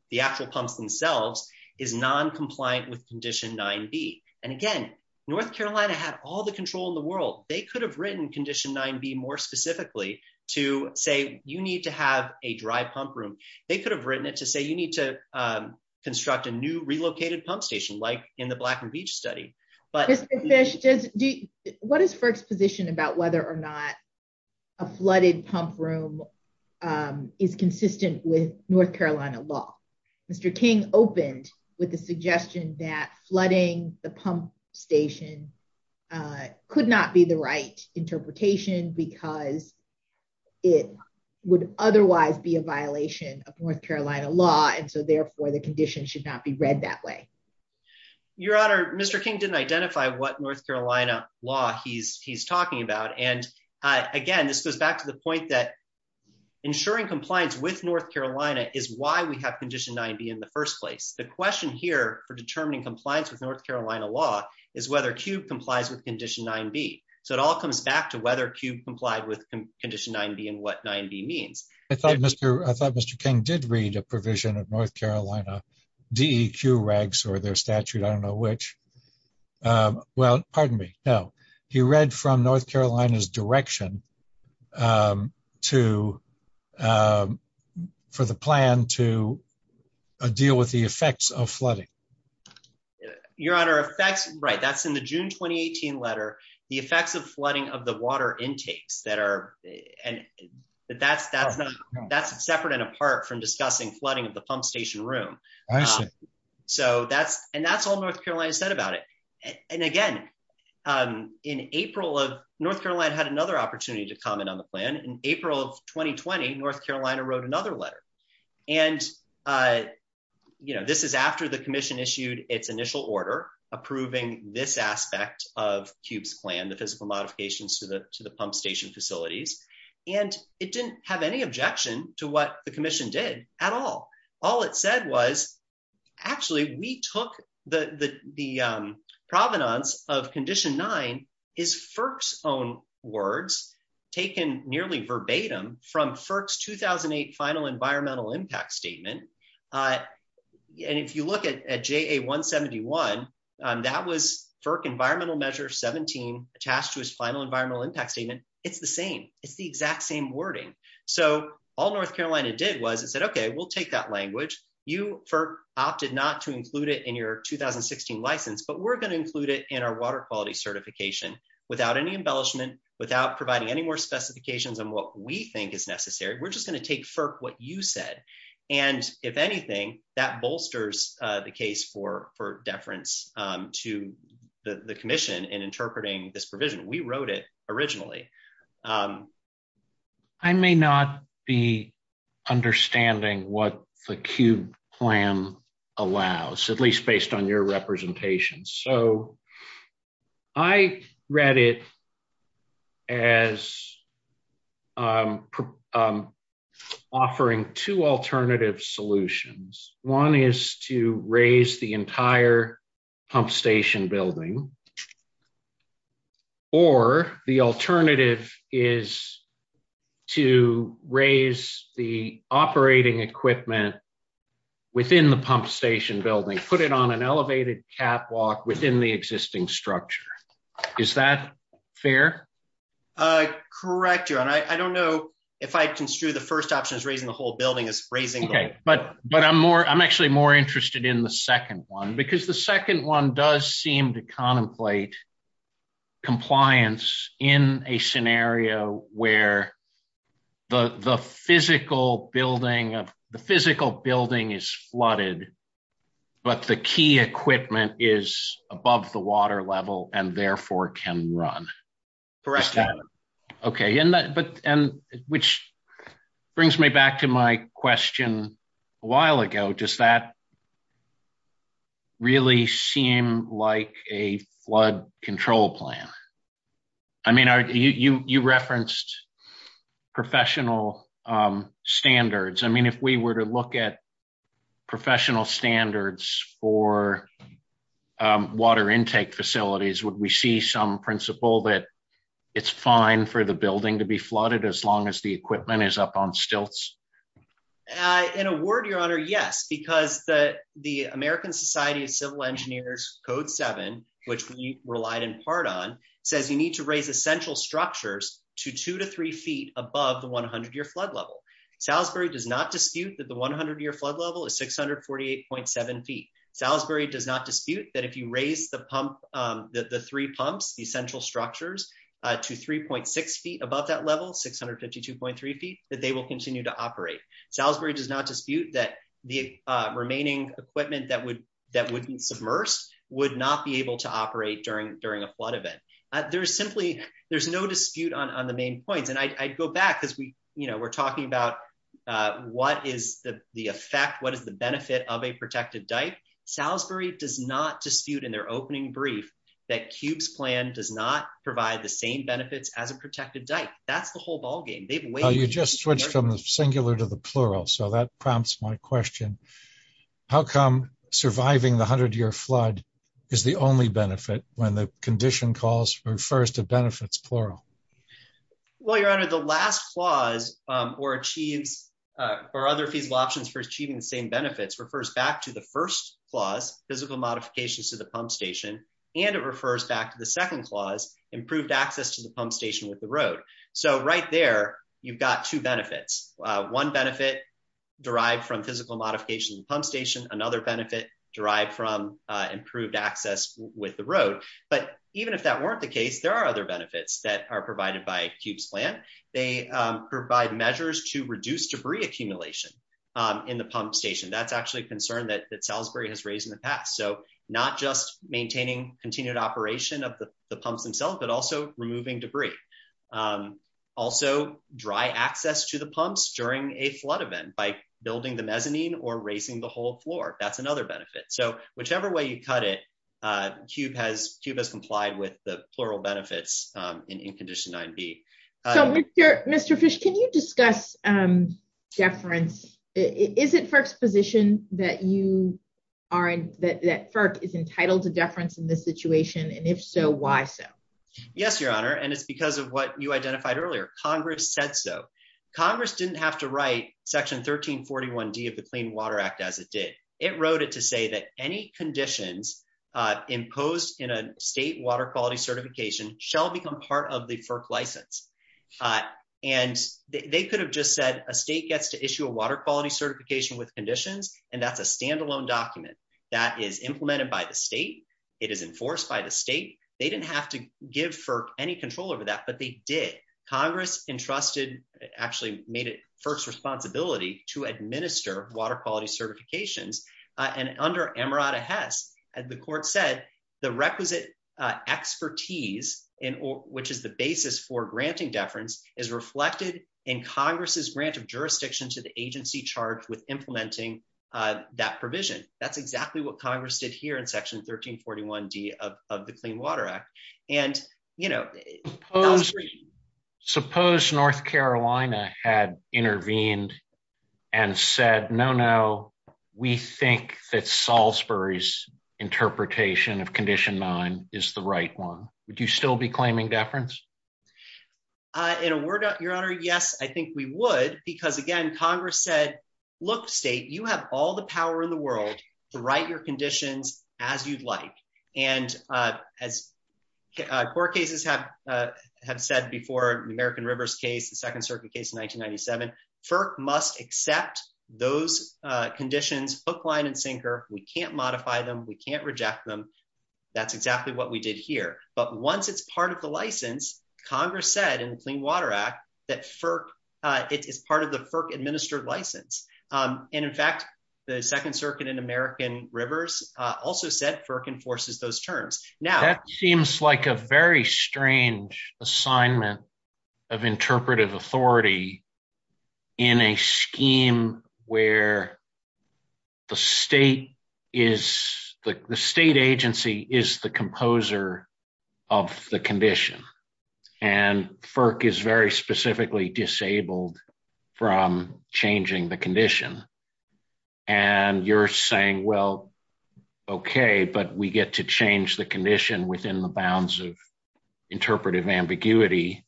the actual pumps themselves is non-compliant with Condition 9B. And again, North Carolina had all the control in the world. They could have written Condition 9B more specifically to say, you need to have a dry pump room. They could have written it to say, you need to construct a new relocated pump station, like in the Black and Beach study. What is First's position about whether or not a flooded pump room is consistent with North Carolina law? Mr. King opened with the suggestion that flooding the pump station could not be the right interpretation because it would otherwise be a violation of North Carolina law, and so therefore the condition should not be read that way. Your Honor, Mr. King didn't identify what North Carolina law he's talking about. And again, this goes back to the point that ensuring compliance with North Carolina is why we have Condition 9B in the first place. The question here for determining compliance with North Carolina law is whether CUBE complies with Condition 9B. So it all comes back to whether CUBE complied with Condition 9B and what 9B means. I thought Mr. King did read a provision of North Carolina DEQ regs or their statute, I don't know which. Well, pardon me, no. He read from North Carolina's statute, but I don't know if that's the right direction for the plan to deal with the effects of flooding. Your Honor, that's right. That's in the June 2018 letter, the effects of flooding of the water intakes. That's separate and apart from discussing flooding of the pump station room. All right. And that's all North Carolina said about it. And again, North Carolina had another opportunity to comment on the plan. In April of 2020, North Carolina wrote another letter. And this is after the commission issued its initial order approving this aspect of CUBE's plan, the physical modifications to the pump station facilities. And it didn't have any objection to what the commission did at all. All it said was, actually, we took the provenance of Condition 9 is FERC's own words taken nearly verbatim from FERC's 2008 Final Environmental Impact Statement. And if you look at JA-171, that was FERC Environmental Measure 17 attached to its Final Environmental Impact Statement. It's the same. It's the exact same wording. So all North Carolina did was it said, okay, we'll take that language. You, FERC, opted not to include it in your 2016 license, but we're going to include it in our water quality certification without any embellishment, without providing any more specifications on what we think is necessary. We're just going to take, FERC, what you said. And if anything, that bolsters the case for deference to the commission in interpreting this provision. We wrote it originally. I may not be understanding what the CUBE plan allows, at least based on your representation. So I read it as offering two alternative solutions. One is to raise the entire pump station building. Or the alternative is to raise the operating equipment within the pump station building, put it on an elevated catwalk within the existing structure. Is that fair? Correct, your honor. I don't know if I construed the first option as raising the whole building as raising. Okay, but I'm more, I'm actually more interested in the second one, because the second one does seem to contemplate compliance in a scenario where the physical building of, the physical building is flooded, but the key equipment is above the water level and therefore can run. Correct, your honor. Okay. And which brings me back to my question a while ago. Does that really seem like a flood control plan? I mean, you referenced professional standards. I mean, if we were to look at professional standards for water intake facilities, would we see some principle that it's fine for the building to be flooded as long as the equipment is up on stilts? In a word, your honor, yes, because the American Society of Civil Engineers Code 7, which we relied in part on, says you need to raise essential structures to two to three feet above the 100-year flood level. Salisbury does not dispute that the 100-year flood level is 648.7 feet. Salisbury does not dispute that if you raise the three pumps, the essential structures, to 3.6 feet above that level, 652.3 feet, that they will continue to operate. Salisbury does not dispute that the remaining equipment that would be submersed would not be able to operate during a flood event. There's simply, there's no dispute on the main point. And I go back because we're talking about what is the effect, what is the benefit of a protective dike. Salisbury does not dispute in their opening brief that CUBE's plan does not provide the same benefits as a protective dike. That's the whole ballgame. You just switched from the singular to the plural, so that prompts my question. How come surviving the 100-year flood is the only benefit when the condition calls for first the benefits plural? Well, your honor, the last clause, or achieve, or other feasible options for achieving the same benefits refers back to the first clause, physical modifications to the pump station, and it refers back to the second clause, improved access to the pump station with the road. So right there, you've got two benefits. One benefit derived from physical modification pump station, another benefit derived from improved access with the road. But even if that weren't the case, there are other benefits that are provided by CUBE's plan. They provide measures to reduce debris accumulation in the pump station. That's actually a concern that Salisbury has raised in the past. So not just maintaining continued operation of the pumps themselves, but also removing debris. Also dry access to the pumps during a flood event by building the mezzanine or raising the whole floor. That's another benefit. So whichever way you cut it, CUBE has complied with the plural benefits in Incondition 9b. Mr. Fish, can you discuss deference? Is it FERC's position that FERC is entitled to deference in this situation, and if so, why so? Yes, your honor, and it's because of what you as it did. It wrote it to say that any conditions imposed in a state water quality certification shall become part of the FERC license. And they could have just said a state gets to issue a water quality certification with conditions, and that's a standalone document that is implemented by the state. It is enforced by the state. They didn't have to give FERC any control over that, but they did. Congress entrusted, actually made it FERC's responsibility to administer water quality certifications, and under Emirata Hess, as the court said, the requisite expertise, which is the basis for granting deference, is reflected in Congress's grant of jurisdiction to the agency charged with implementing that provision. That's exactly what Congress did here in section 1341d of the Clean Water Act. And, you know, suppose North Carolina had intervened and said, no, no, we think that Salisbury's interpretation of condition nine is the right one. Would you still be claiming deference? In a word, your honor, yes, I think we would, because, again, Congress said, look, state, you have all the power in the world to write your conditions as you'd like. And as court cases have said before, the American Rivers case, the Second Circuit case in 1997, FERC must accept those conditions, hook, line, and sinker. We can't modify them. We can't reject them. That's exactly what we did here. But once it's part of the license, Congress said in the Clean Water Act that it is part of the FERC-administered license. And, in fact, the Second Circuit in American Rivers also said FERC enforces those terms. Now, that seems like a very strange assignment of interpretive authority in a scheme where the state is, the state agency is the composer of the condition. And FERC is very specifically disabled from changing the condition. And you're saying, well, okay, but we get to change the condition within the bounds of interpretive ambiguity,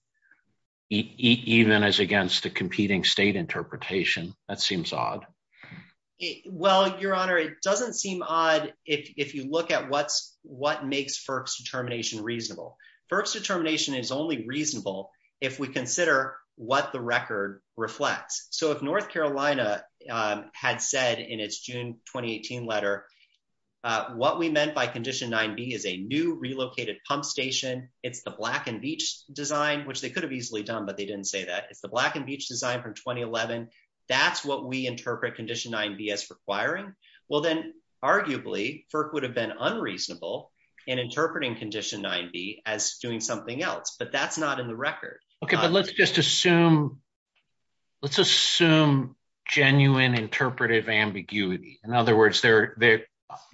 even as against the competing state interpretation. That seems odd. Well, your honor, it doesn't seem odd if you look at what's, what makes FERC's determination reasonable. FERC's determination is only reasonable if we consider what the record reflects. So, if North Carolina had said in its June 2018 letter, what we meant by condition 9b is a new relocated pump station, it's the Black and Veatch design, which they could have easily done, but they didn't say that. It's the Black and Veatch design from 2011. That's what we interpret condition 9b as requiring. Well, then, arguably, FERC would have been unreasonable in interpreting condition 9b as doing something else, but that's not in the record. Okay, but let's just assume, let's assume genuine interpretive ambiguity. In other words, there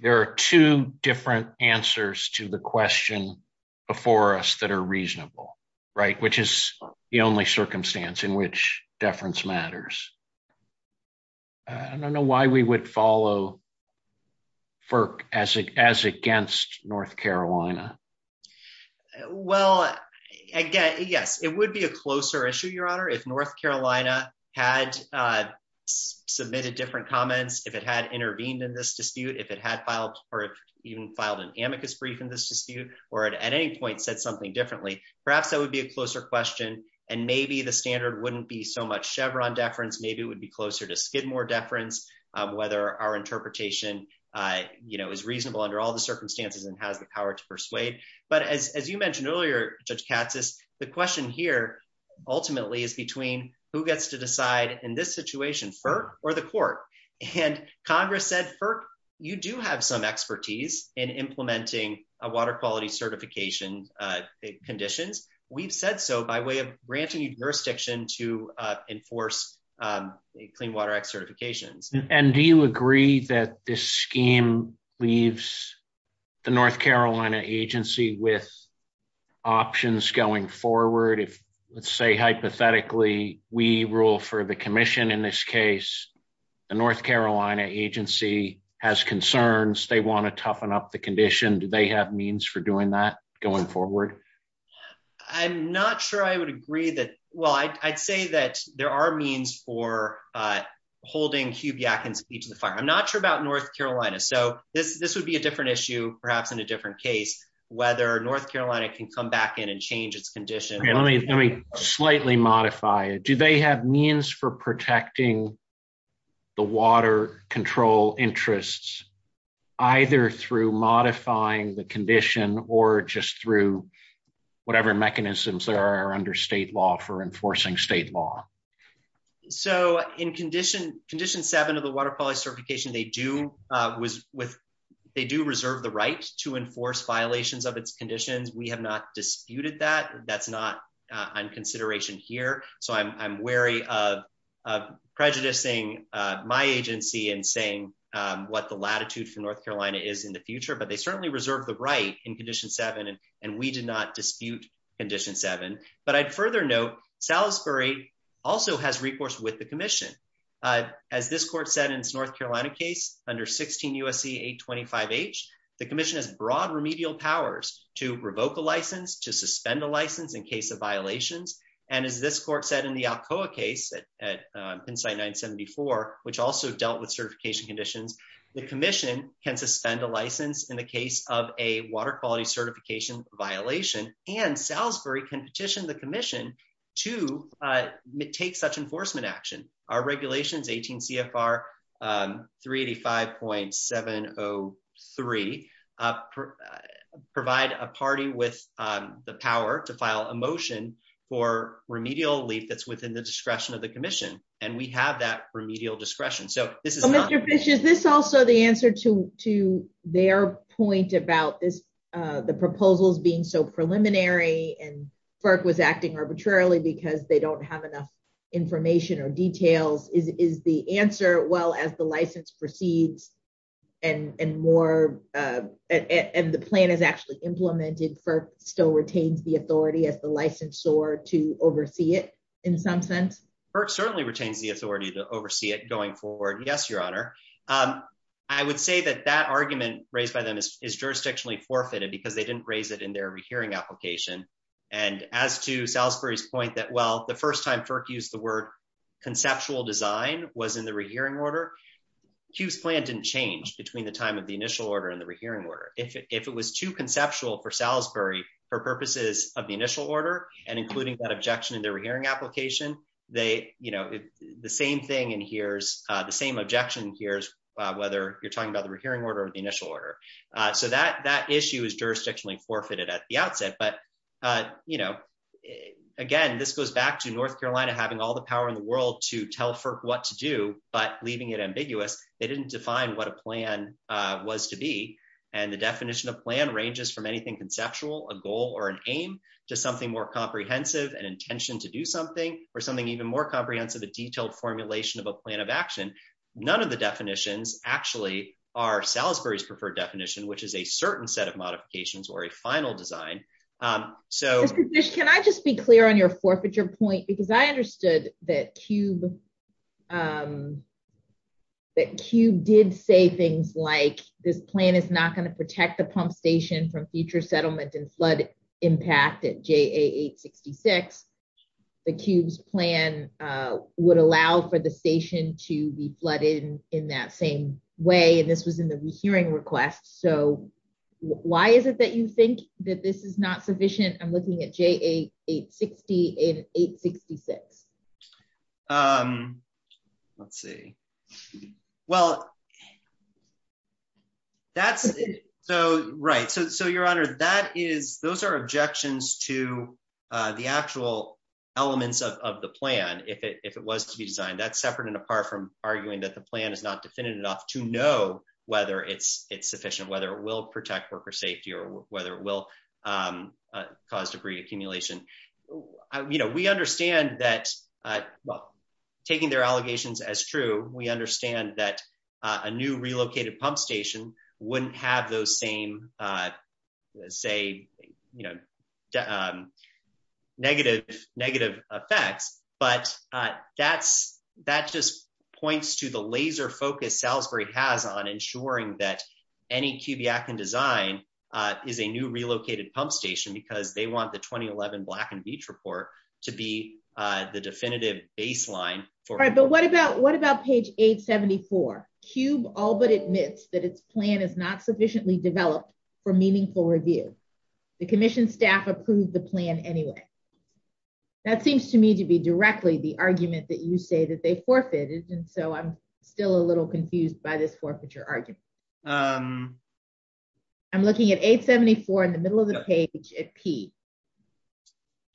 are two different answers to the question before us that are reasonable, right? Which is the only circumstance in which deference matters. I don't know why we would follow FERC as against North Carolina. Well, again, yes, it would be a closer issue, your honor, if North Carolina had submitted different comments, if it had intervened in this dispute, if it had filed or even filed an amicus brief in this dispute, or at any point said something differently. Perhaps that would be a closer question, and maybe the standard wouldn't be so much Chevron deference. Maybe it would be closer to Skidmore deference, whether our interpretation is reasonable under all the circumstances and has the power to persuade. But as you mentioned earlier, Judge Katsas, the question here ultimately is between who gets to decide in this situation, FERC or the court? And Congress said, FERC, you do have some expertise in implementing water quality certification conditions. We've said so by way of granting jurisdiction to enforce a Clean Water Act certification. And do you agree that this scheme leaves the North Carolina agency with options going forward? If, let's say, hypothetically, we rule for the commission in this case, the North Carolina agency has concerns, they want to toughen up the condition, do they have means for doing that going forward? I'm not sure I would agree that, well, I'd say that there are means for holding Hube Yackens to the fire. I'm not sure about North Carolina. So this would be a different issue, perhaps in a different case, whether North Carolina can come back in and change its condition. Let me slightly modify it. Do they have means for protecting the water control interests, either through modifying the condition or just through whatever mechanisms that are under state law for enforcing state law? So in condition seven of the water quality certification, they do reserve the rights to enforce violations of its conditions. We have not disputed that. That's not on consideration here. So I'm wary of prejudicing my agency and saying what the latitude for North Carolina is in the future, but they certainly reserve the right in condition seven, and we did not dispute condition seven. But I'd further note, Salisbury also has recourse with the commission. As this court said in its North Carolina case, under 16 U.S.C. 825H, the commission has broad remedial powers to revoke a license, to suspend a license in case of violations. And as this court said in the Alcoa case, at Insight 974, which also dealt with certification conditions, the commission can suspend a license in the case of a water quality certification violation, and Salisbury can petition the commission to take such enforcement action. Our regulations, 18 CFR 385.703, provide a party with the power to file a motion for remedial relief that's within the discretion of the commission, and we have that remedial discretion. Mr. Fish, is this also the answer to their point about the proposals being so preliminary and FERC was acting arbitrarily because they don't have enough information or details? Is the answer, well, as the license proceeds and the plan is actually implemented, FERC still retains the authority as the licensor to oversee it, in some sense? FERC certainly retains the authority to oversee it going forward, yes, your honor. I would say that that argument raised by them is jurisdictionally forfeited because they didn't raise it in their rehearing application, and as to Salisbury's point that, well, the first time FERC used the word conceptual design was in the rehearing order, Hughes' plan didn't change between the time of the initial order and the rehearing order. If it was too conceptual for Salisbury for purposes of the initial order and including that objection in their rehearing application, the same thing adheres, the same objection adheres whether you're talking about the rehearing order or the initial order. So that issue is jurisdictionally forfeited at the outset, but again, this goes back to North Carolina having all the power in the world to tell FERC what to do, but leaving it ambiguous. They didn't define what a plan was to be, and the definition of plan ranges from anything conceptual, a goal or an aim, to something more comprehensive, an intention to do something, or something even more comprehensive, a detailed formulation of a plan of action. None of the definitions actually are Salisbury's preferred definition, which is a certain set of modifications or a final design. Can I just be clear on your forfeiture point? Because I understood that CUBE did say things like this plan is not going to protect the pump station from future settlement and flood impact at JA866. The CUBE's plan would allow for the station to be flooded in that same way, and this was in the rehearing request. So why is it that you think that this is not sufficient? I'm looking at JA860 and 866. Let's see. Well, that's, so right. So your honor, that is, those are objections to the actual elements of the plan, if it was to be designed. That's separate and apart from arguing that the plan is not definitive enough to know whether it's for safety or whether it will cause debris accumulation. We understand that, well, taking their allegations as true, we understand that a new relocated pump station wouldn't have those same, say, negative effects. But that just points to the laser focus Salisbury has on ensuring that any CUBIAC in design is a new relocated pump station because they want the 2011 Black & Veatch report to be the definitive baseline. All right, but what about what about page 874? CUBE all but admits that its plan is not sufficiently developed for meaningful review. The commission staff approved the plan anyway. That seems to me to be directly the argument that you say that they forfeited, and so I'm still a little confused by this forfeiture argument. I'm looking at 874 in the middle of the page at P.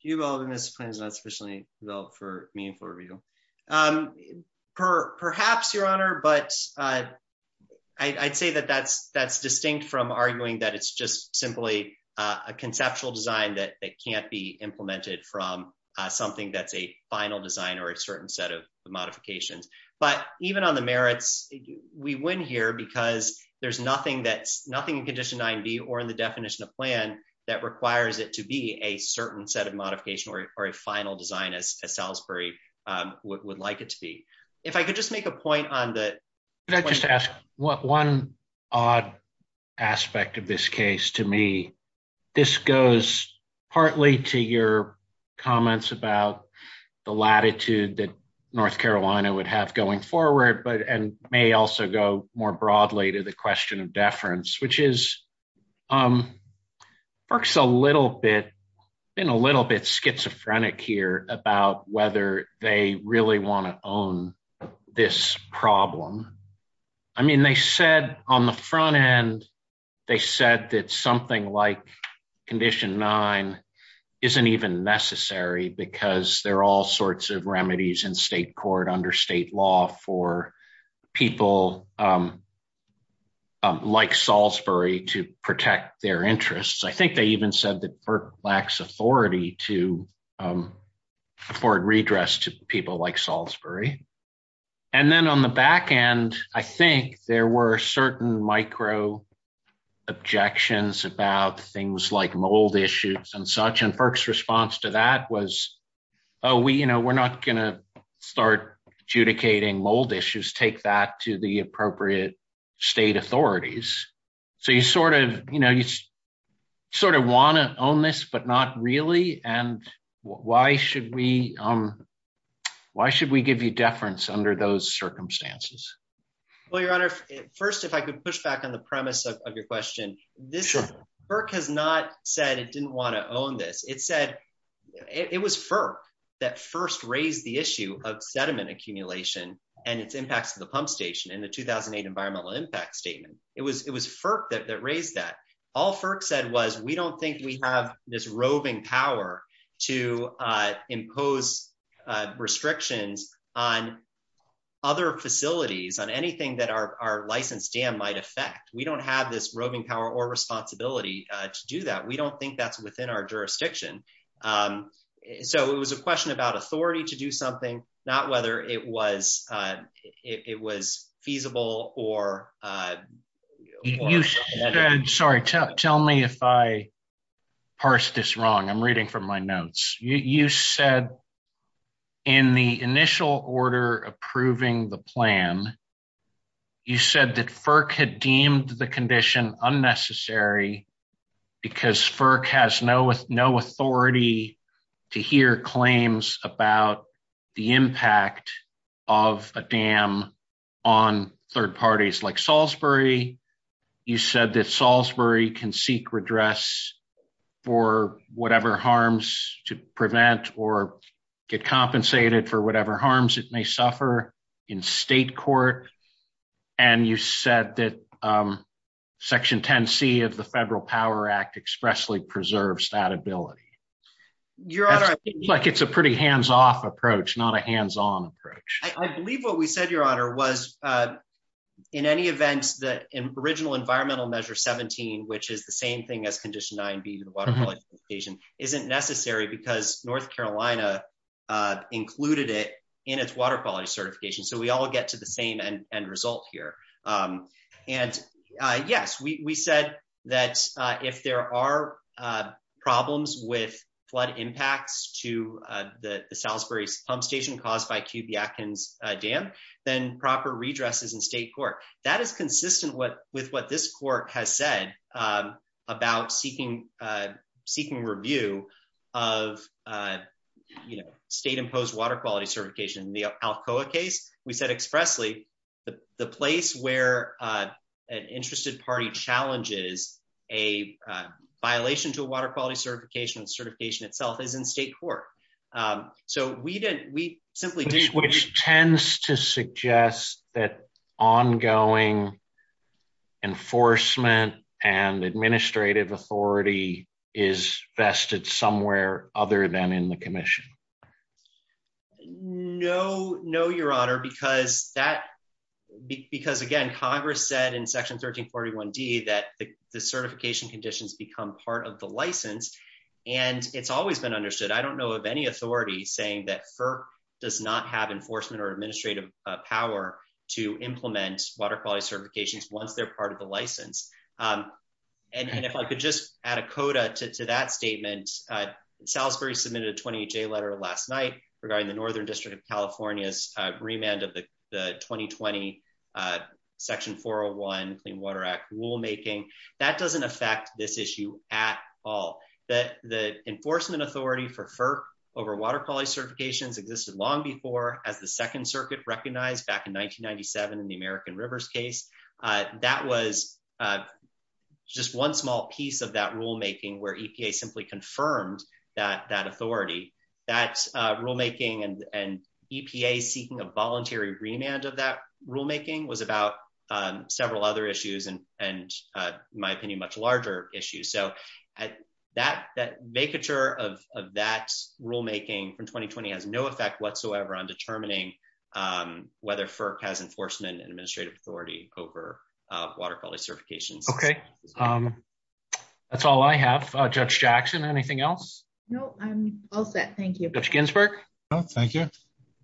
CUBE all but admits the plan is not sufficiently developed for meaningful review. Perhaps, your honor, but I'd say that that's distinct from arguing that it's just simply a conceptual design that can't be implemented from something that's final design or a certain set of modifications. But even on the merits, we win here because there's nothing in Condition 9b or in the definition of plan that requires it to be a certain set of modification or a final design as Salisbury would like it to be. If I could just make a point on the... Can I just ask one odd aspect of this case to me? This goes partly to your comments about the latitude that North Carolina would have going forward and may also go more broadly to the question of deference, which works a little bit schizophrenic here about whether they really want to own this problem. I mean, they said on the front end, they said that something like Condition 9 isn't even necessary because there are all sorts of remedies in state court under state law for people like Salisbury to protect their interests. I think they even said that FERC lacks authority to afford redress to people like Salisbury. And then on the back end, I think there were certain micro objections about things like mold issues and such. And FERC's response to that was, we're not going to start adjudicating mold issues. Take that to the appropriate state authorities. So you sort of want to own this, but not really. And why should we give you deference under those circumstances? Well, Your Honor, first, if I could push back on the premise of your question. FERC has not said it didn't want to own this. It said... It was FERC that first raised the issue of sediment accumulation and its impact to the pump station in the 2008 Environmental Impact Statement. It was FERC that raised that. All FERC said was, we don't think we have this roving power to impose restrictions on other facilities, on anything that our licensed dam might affect. We don't have this roving power or responsibility to do that. We don't think that's within our jurisdiction. So it was a question about authority to do something, not whether it was feasible or... Sorry, tell me if I parsed this wrong. I'm reading from my notes. You said in the initial order approving the plan, you said that FERC had deemed the condition unnecessary because FERC has no authority to hear claims about the impact of a dam on third parties like Salisbury can seek redress for whatever harms to prevent or get compensated for whatever harms it may suffer in state court. And you said that Section 10C of the Federal Power Act expressly preserves that ability. Your Honor... It's like it's a pretty hands-off approach, not a hands-on approach. I believe what we said, Your Honor, was in any event, the original Environmental Measure which is the same thing as Condition 9B to the Water Quality Certification isn't necessary because North Carolina included it in its Water Quality Certification. So we all get to the same end results here. And yes, we said that if there are problems with flood impacts to the Salisbury Pump Station caused by QB Atkins Dam, then proper redress is in state court. That is consistent with what this court has said about seeking review of state-imposed Water Quality Certification. In the Alcoa case, we said expressly the place where an interested party challenges a violation to a Water Quality Certification itself is in state court. So we simply... Which tends to suggest that ongoing enforcement and administrative authority is vested somewhere other than in the commission. No, Your Honor, because again, Congress said in Section 1341D that the certification conditions become part of the license and it's always been understood. I don't have enforcement or administrative power to implement Water Quality Certifications once they're part of the license. And if I could just add a coda to that statement, Salisbury submitted a 20-J letter last night regarding the Northern District of California's remand of the 2020 Section 401 in Water Act rulemaking. That doesn't affect this issue at all. The enforcement authority for FERC over Water Quality Certifications existed long before as the Second Circuit recognized back in 1997 in the American Rivers case. That was just one small piece of that rulemaking where EPA simply confirmed that authority. That rulemaking and EPA seeking a voluntary remand of that rulemaking was about several other issues and, in my opinion, much larger issues. So that vacature of that rulemaking from 2020 has no effect whatsoever on determining whether FERC has enforcement and administrative authority over Water Quality Certifications. Okay. That's all I have. Judge Jackson, anything else? No, I'm all set. Thank you. Judge Ginsburg? No, thank you.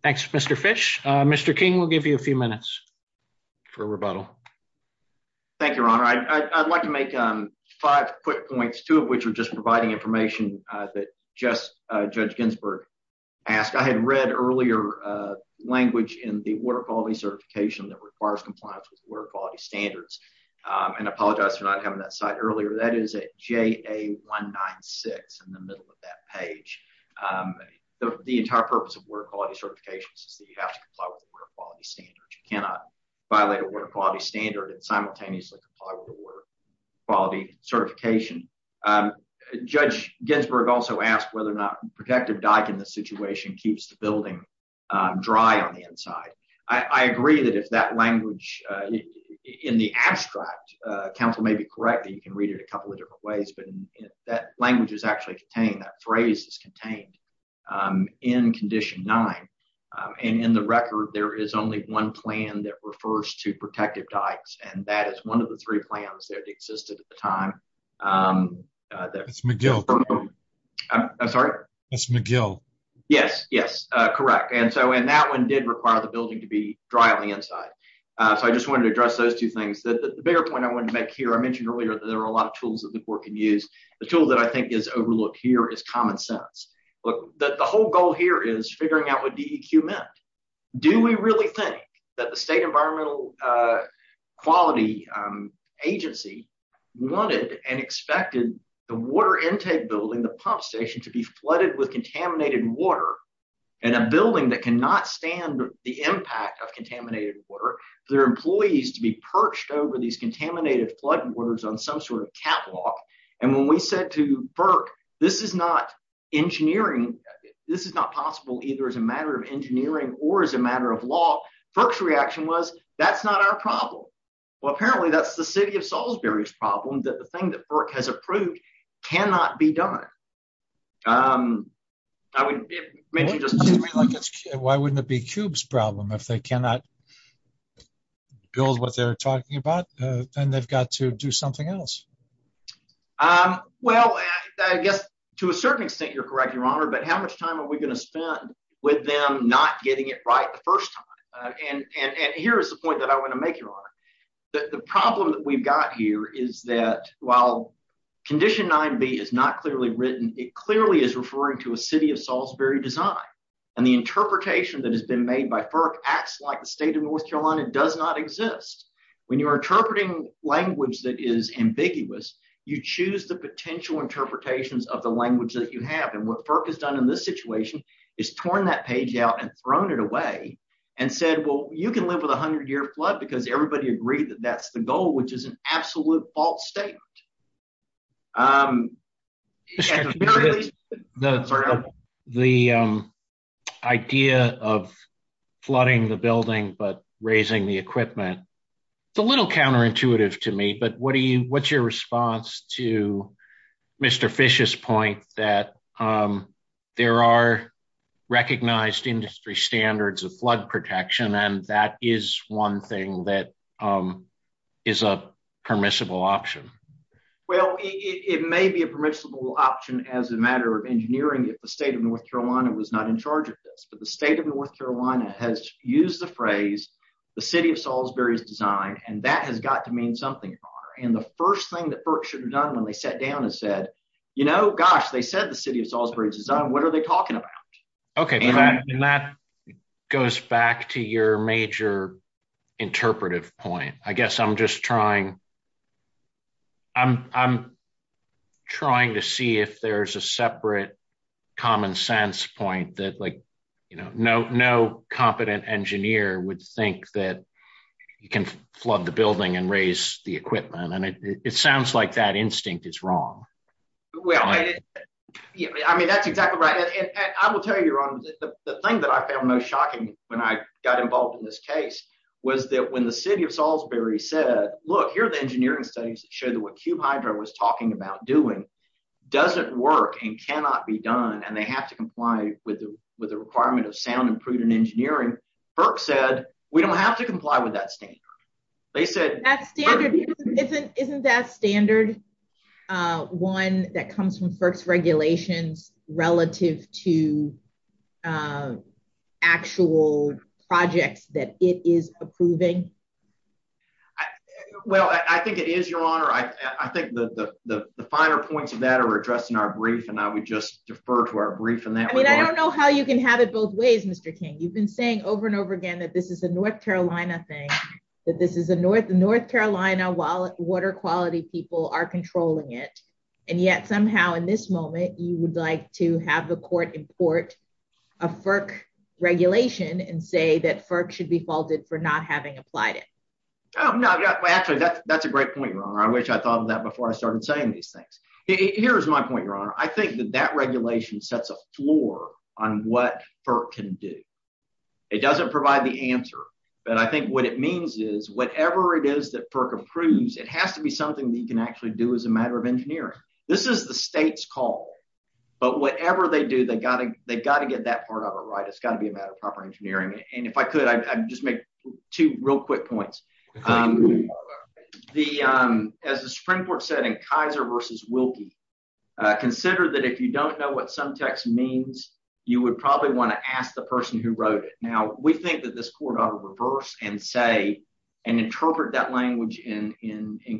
Thanks. Mr. Fish? Mr. King will give you a few minutes for rebuttal. Thank you, Your Honor. I'd like to make five quick points, two of which are just providing information that Judge Ginsburg asked. I had read earlier language in the Water Quality Certification that requires compliance with Water Quality Standards, and I apologize for not having that slide earlier. That is at JA196 in the middle of that page. The entire purpose of Water Quality Certifications is that you have to cannot violate a Water Quality Standard and simultaneously comply with a Water Quality Certification. Judge Ginsburg also asked whether or not protective document situation keeps the building dry on the inside. I agree that that language in the abstract, counsel may be correct, and you can read it a couple of different ways, but that language is actually contained, that phrase is contained in Condition 9. In the record, there is only one plan that refers to protective docs, and that is one of the three plans that existed at the time. That's McGill. I'm sorry? That's McGill. Yes, yes, correct. That one did require the building to be dry on the inside. I just wanted to address those two things. The bigger point I wanted to make here, I mentioned earlier that there are a lot of tools that the court can use. The tool that is overlooked here is common sense. The whole goal here is figuring out what DEQ meant. Do we really think that the State Environmental Quality Agency wanted and expected the water intake building, the pump station, to be flooded with contaminated water in a building that cannot stand the impact of contaminated water, for their employees to be perched over these contaminated flood waters on some sort of catwalk? When we said to FERC, this is not engineering, this is not possible either as a matter of engineering or as a matter of law, FERC's reaction was, that's not our problem. Apparently, that's the City of Salisbury's problem, that the thing that FERC has approved cannot be done. Why wouldn't it be CUBE's problem if they cannot build what they're talking about, and they've got to do something else? Well, to a certain extent, you're correct, Your Honor, but how much time are we going to spend with them not getting it right the first time? Here is the point that I want to make, Your Honor. The problem that we've got here is that while Condition 9b is not clearly written, it clearly is referring to a City of Salisbury design. The interpretation that has been made by FERC acts like the State of North Carolina does not exist. When you're interpreting language that is ambiguous, you choose the potential interpretations of the language that you have, and what FERC has done in this situation is torn that page out and thrown it away and said, well, you can live with a hundred-year flood because everybody agreed that that's the goal, which is an absolute false statement. The idea of flooding the building but raising the equipment is a little counterintuitive to me, but what's your response to Mr. Fish's point that there are recognized industry standards of flood protection and that is one thing that is a permissible option? Well, it may be a permissible option as a matter of engineering if the State of North Carolina was not in charge of this, but the State of North Carolina has used the phrase the City of Salisbury's design and that has got to mean something, Your Honor, and the first thing that FERC should have done when they sat down and said, you know, gosh, they said the City of Salisbury's design, what are they talking about? Okay, and that goes back to your major interpretive point. I guess I'm just trying to see if there's a separate common sense point that, like, you know, no competent engineer would think that you can flood the building and raise the equipment, and it sounds like that instinct is wrong. Well, I mean, that's exactly right, and I will tell you, Your Honor, the thing that I found most shocking when I got involved in this case was that when the City of Salisbury said, look, here are the engineering studies that show that what Q-Hydro was talking about doing doesn't work and cannot be done, and they have to comply with the requirement of sound and prudent engineering, FERC said we don't have to comply with that standard. Isn't that standard one that comes from FERC's regulation relative to actual projects that it is approving? Well, I think it is, Your Honor. I think that the finer points of that are addressed in our brief, and I would just defer to our brief on that. I mean, I don't know how you can have it both ways, Mr. King. You've been saying over and over again that this is a North Carolina thing, that this is a North Carolina water quality, people are controlling it, and yet somehow in this moment, you would like to have the court import a FERC regulation and say that FERC should be faulted for not having applied it. No, actually, that's a great point, Your Honor. I wish I thought of that before I started saying these things. Here is my point, Your Honor. I think that that regulation sets a floor on what FERC can do. It doesn't provide the answer, but I think what it means is whatever it is that FERC approves, it has to be something that you can actually do as a matter of engineering. This is the state's call, but whatever they do, they've got to get that part of it right. It's got to be a matter of proper engineering, and if I could, I'd just make two real quick points. As the Supreme Court said in Kaiser v. Wilkie, consider that if you don't know what some text means, you would probably want to ask the person who wrote it. Now, we think that this court ought to reverse and say and interpret that language in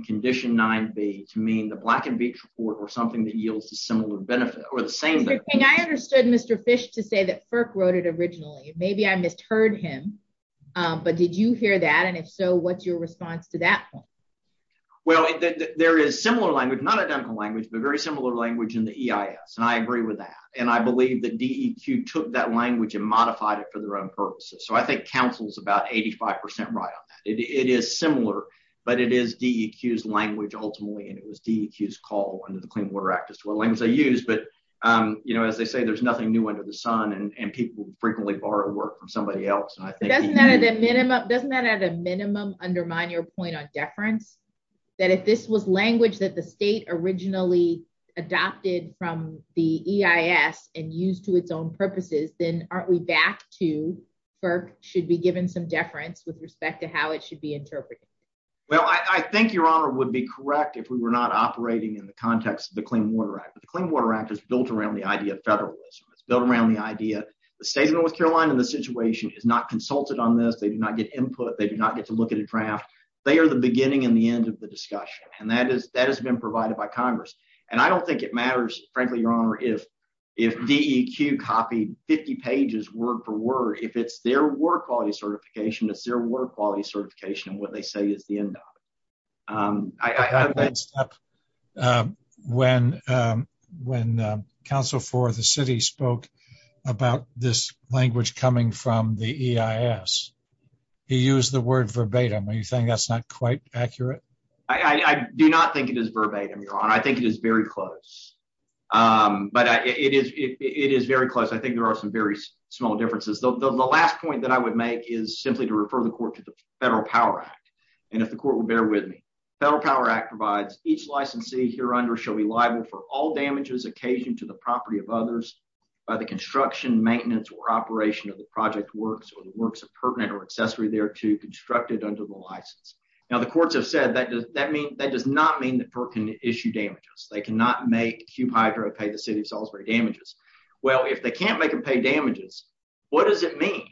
Condition 9b to mean the Black and Beach Court or something that yields a similar benefit or the same thing. I think I understood Mr. Fish to say that FERC wrote it originally. Maybe I misheard him, but did you hear that, and if so, what's your response to that point? Well, there is similar language, not identical language, but very similar language in the EIS, and I agree with that, and I believe that DEQ took that language and modified it for their own purposes, so I think counsel's about 85% right on that. It is similar, but it is DEQ's language, ultimately, and it was DEQ's call under the Clean Water Act as to what language they used, but as they say, there's nothing new under the sun, and people frequently borrow work from somebody else. Doesn't that, at a minimum, undermine your point on deference, that if this was language that the state originally adopted from the EIS and used to its own purposes, then aren't we back to FERC should be given some deference with respect to how it should be interpreted? Well, I think Your Honor would be correct if we were not operating in the context of the Clean Water Act, but the Clean Water Act is built around the idea of federalism. It's built around the idea the state of North Carolina in this situation is not consulted on this. They do not get input. They do not get to look at a draft. They are the beginning and the end of the discussion, and that has been provided by Congress, and I don't think it matters, frankly, Your Honor, if DEQ copied 50 pages word-for-word. If it's their water quality certification, it's their water quality certification, and what they say is the end. When counsel for the city spoke about this language coming from the EIS, he used the word verbatim. Are you saying that's not quite accurate? I do not think it is verbatim, Your Honor. I think it is very close, but it is very close. I think there are some very small differences. The last point that I would make is simply to refer the court to the Federal Power Act, and if the court will bear with me. Federal Power Act provides each licensee here under shall be liable for all damages occasioned to the property of others by the construction, maintenance, or operation of the project works or the works of pertinent or accessory thereto constructed under the license. Now, the courts have said that does not mean that PERT can issue damages. They cannot make Q-Piterot pay the city of Salisbury damages. Well, if they can't make them pay damages, what does it mean?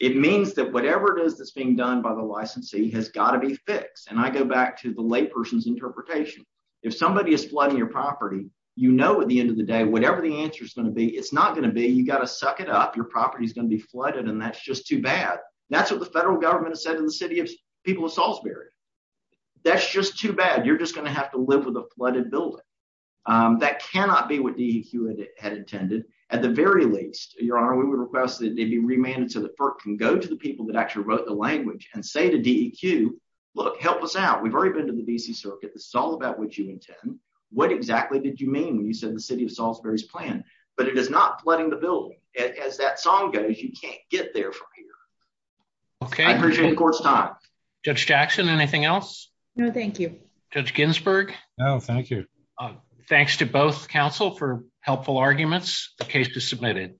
It means that whatever it is that's being done by the licensee has got to be fixed, and I go back to the layperson's interpretation. If somebody is flooding your property, you know at the end of the day whatever the answer is going to be, it's not going to be you got to suck it up. Your property is going to be flooded, and that's just too bad. That's what the federal government said in the city of people of Salisbury. That's just too bad. You're just going to have to live with a flooded building. That cannot be what DEQ had intended. At the very least, Your Honor, we would request that you remain until the PERT can go to the people that actually wrote the language and say to DEQ, look, help us out. We've already been to the D.C. Circuit. It's all about what you intend. What exactly did you mean when you said the city of Salisbury's plan? But it is not flooding the building. As that song goes, you can't get there from here. Okay. Court's time. Judge Jackson, anything else? No, thank you. Judge Ginsburg? No, thank you. Thanks to both counsel for helpful arguments. The case is submitted.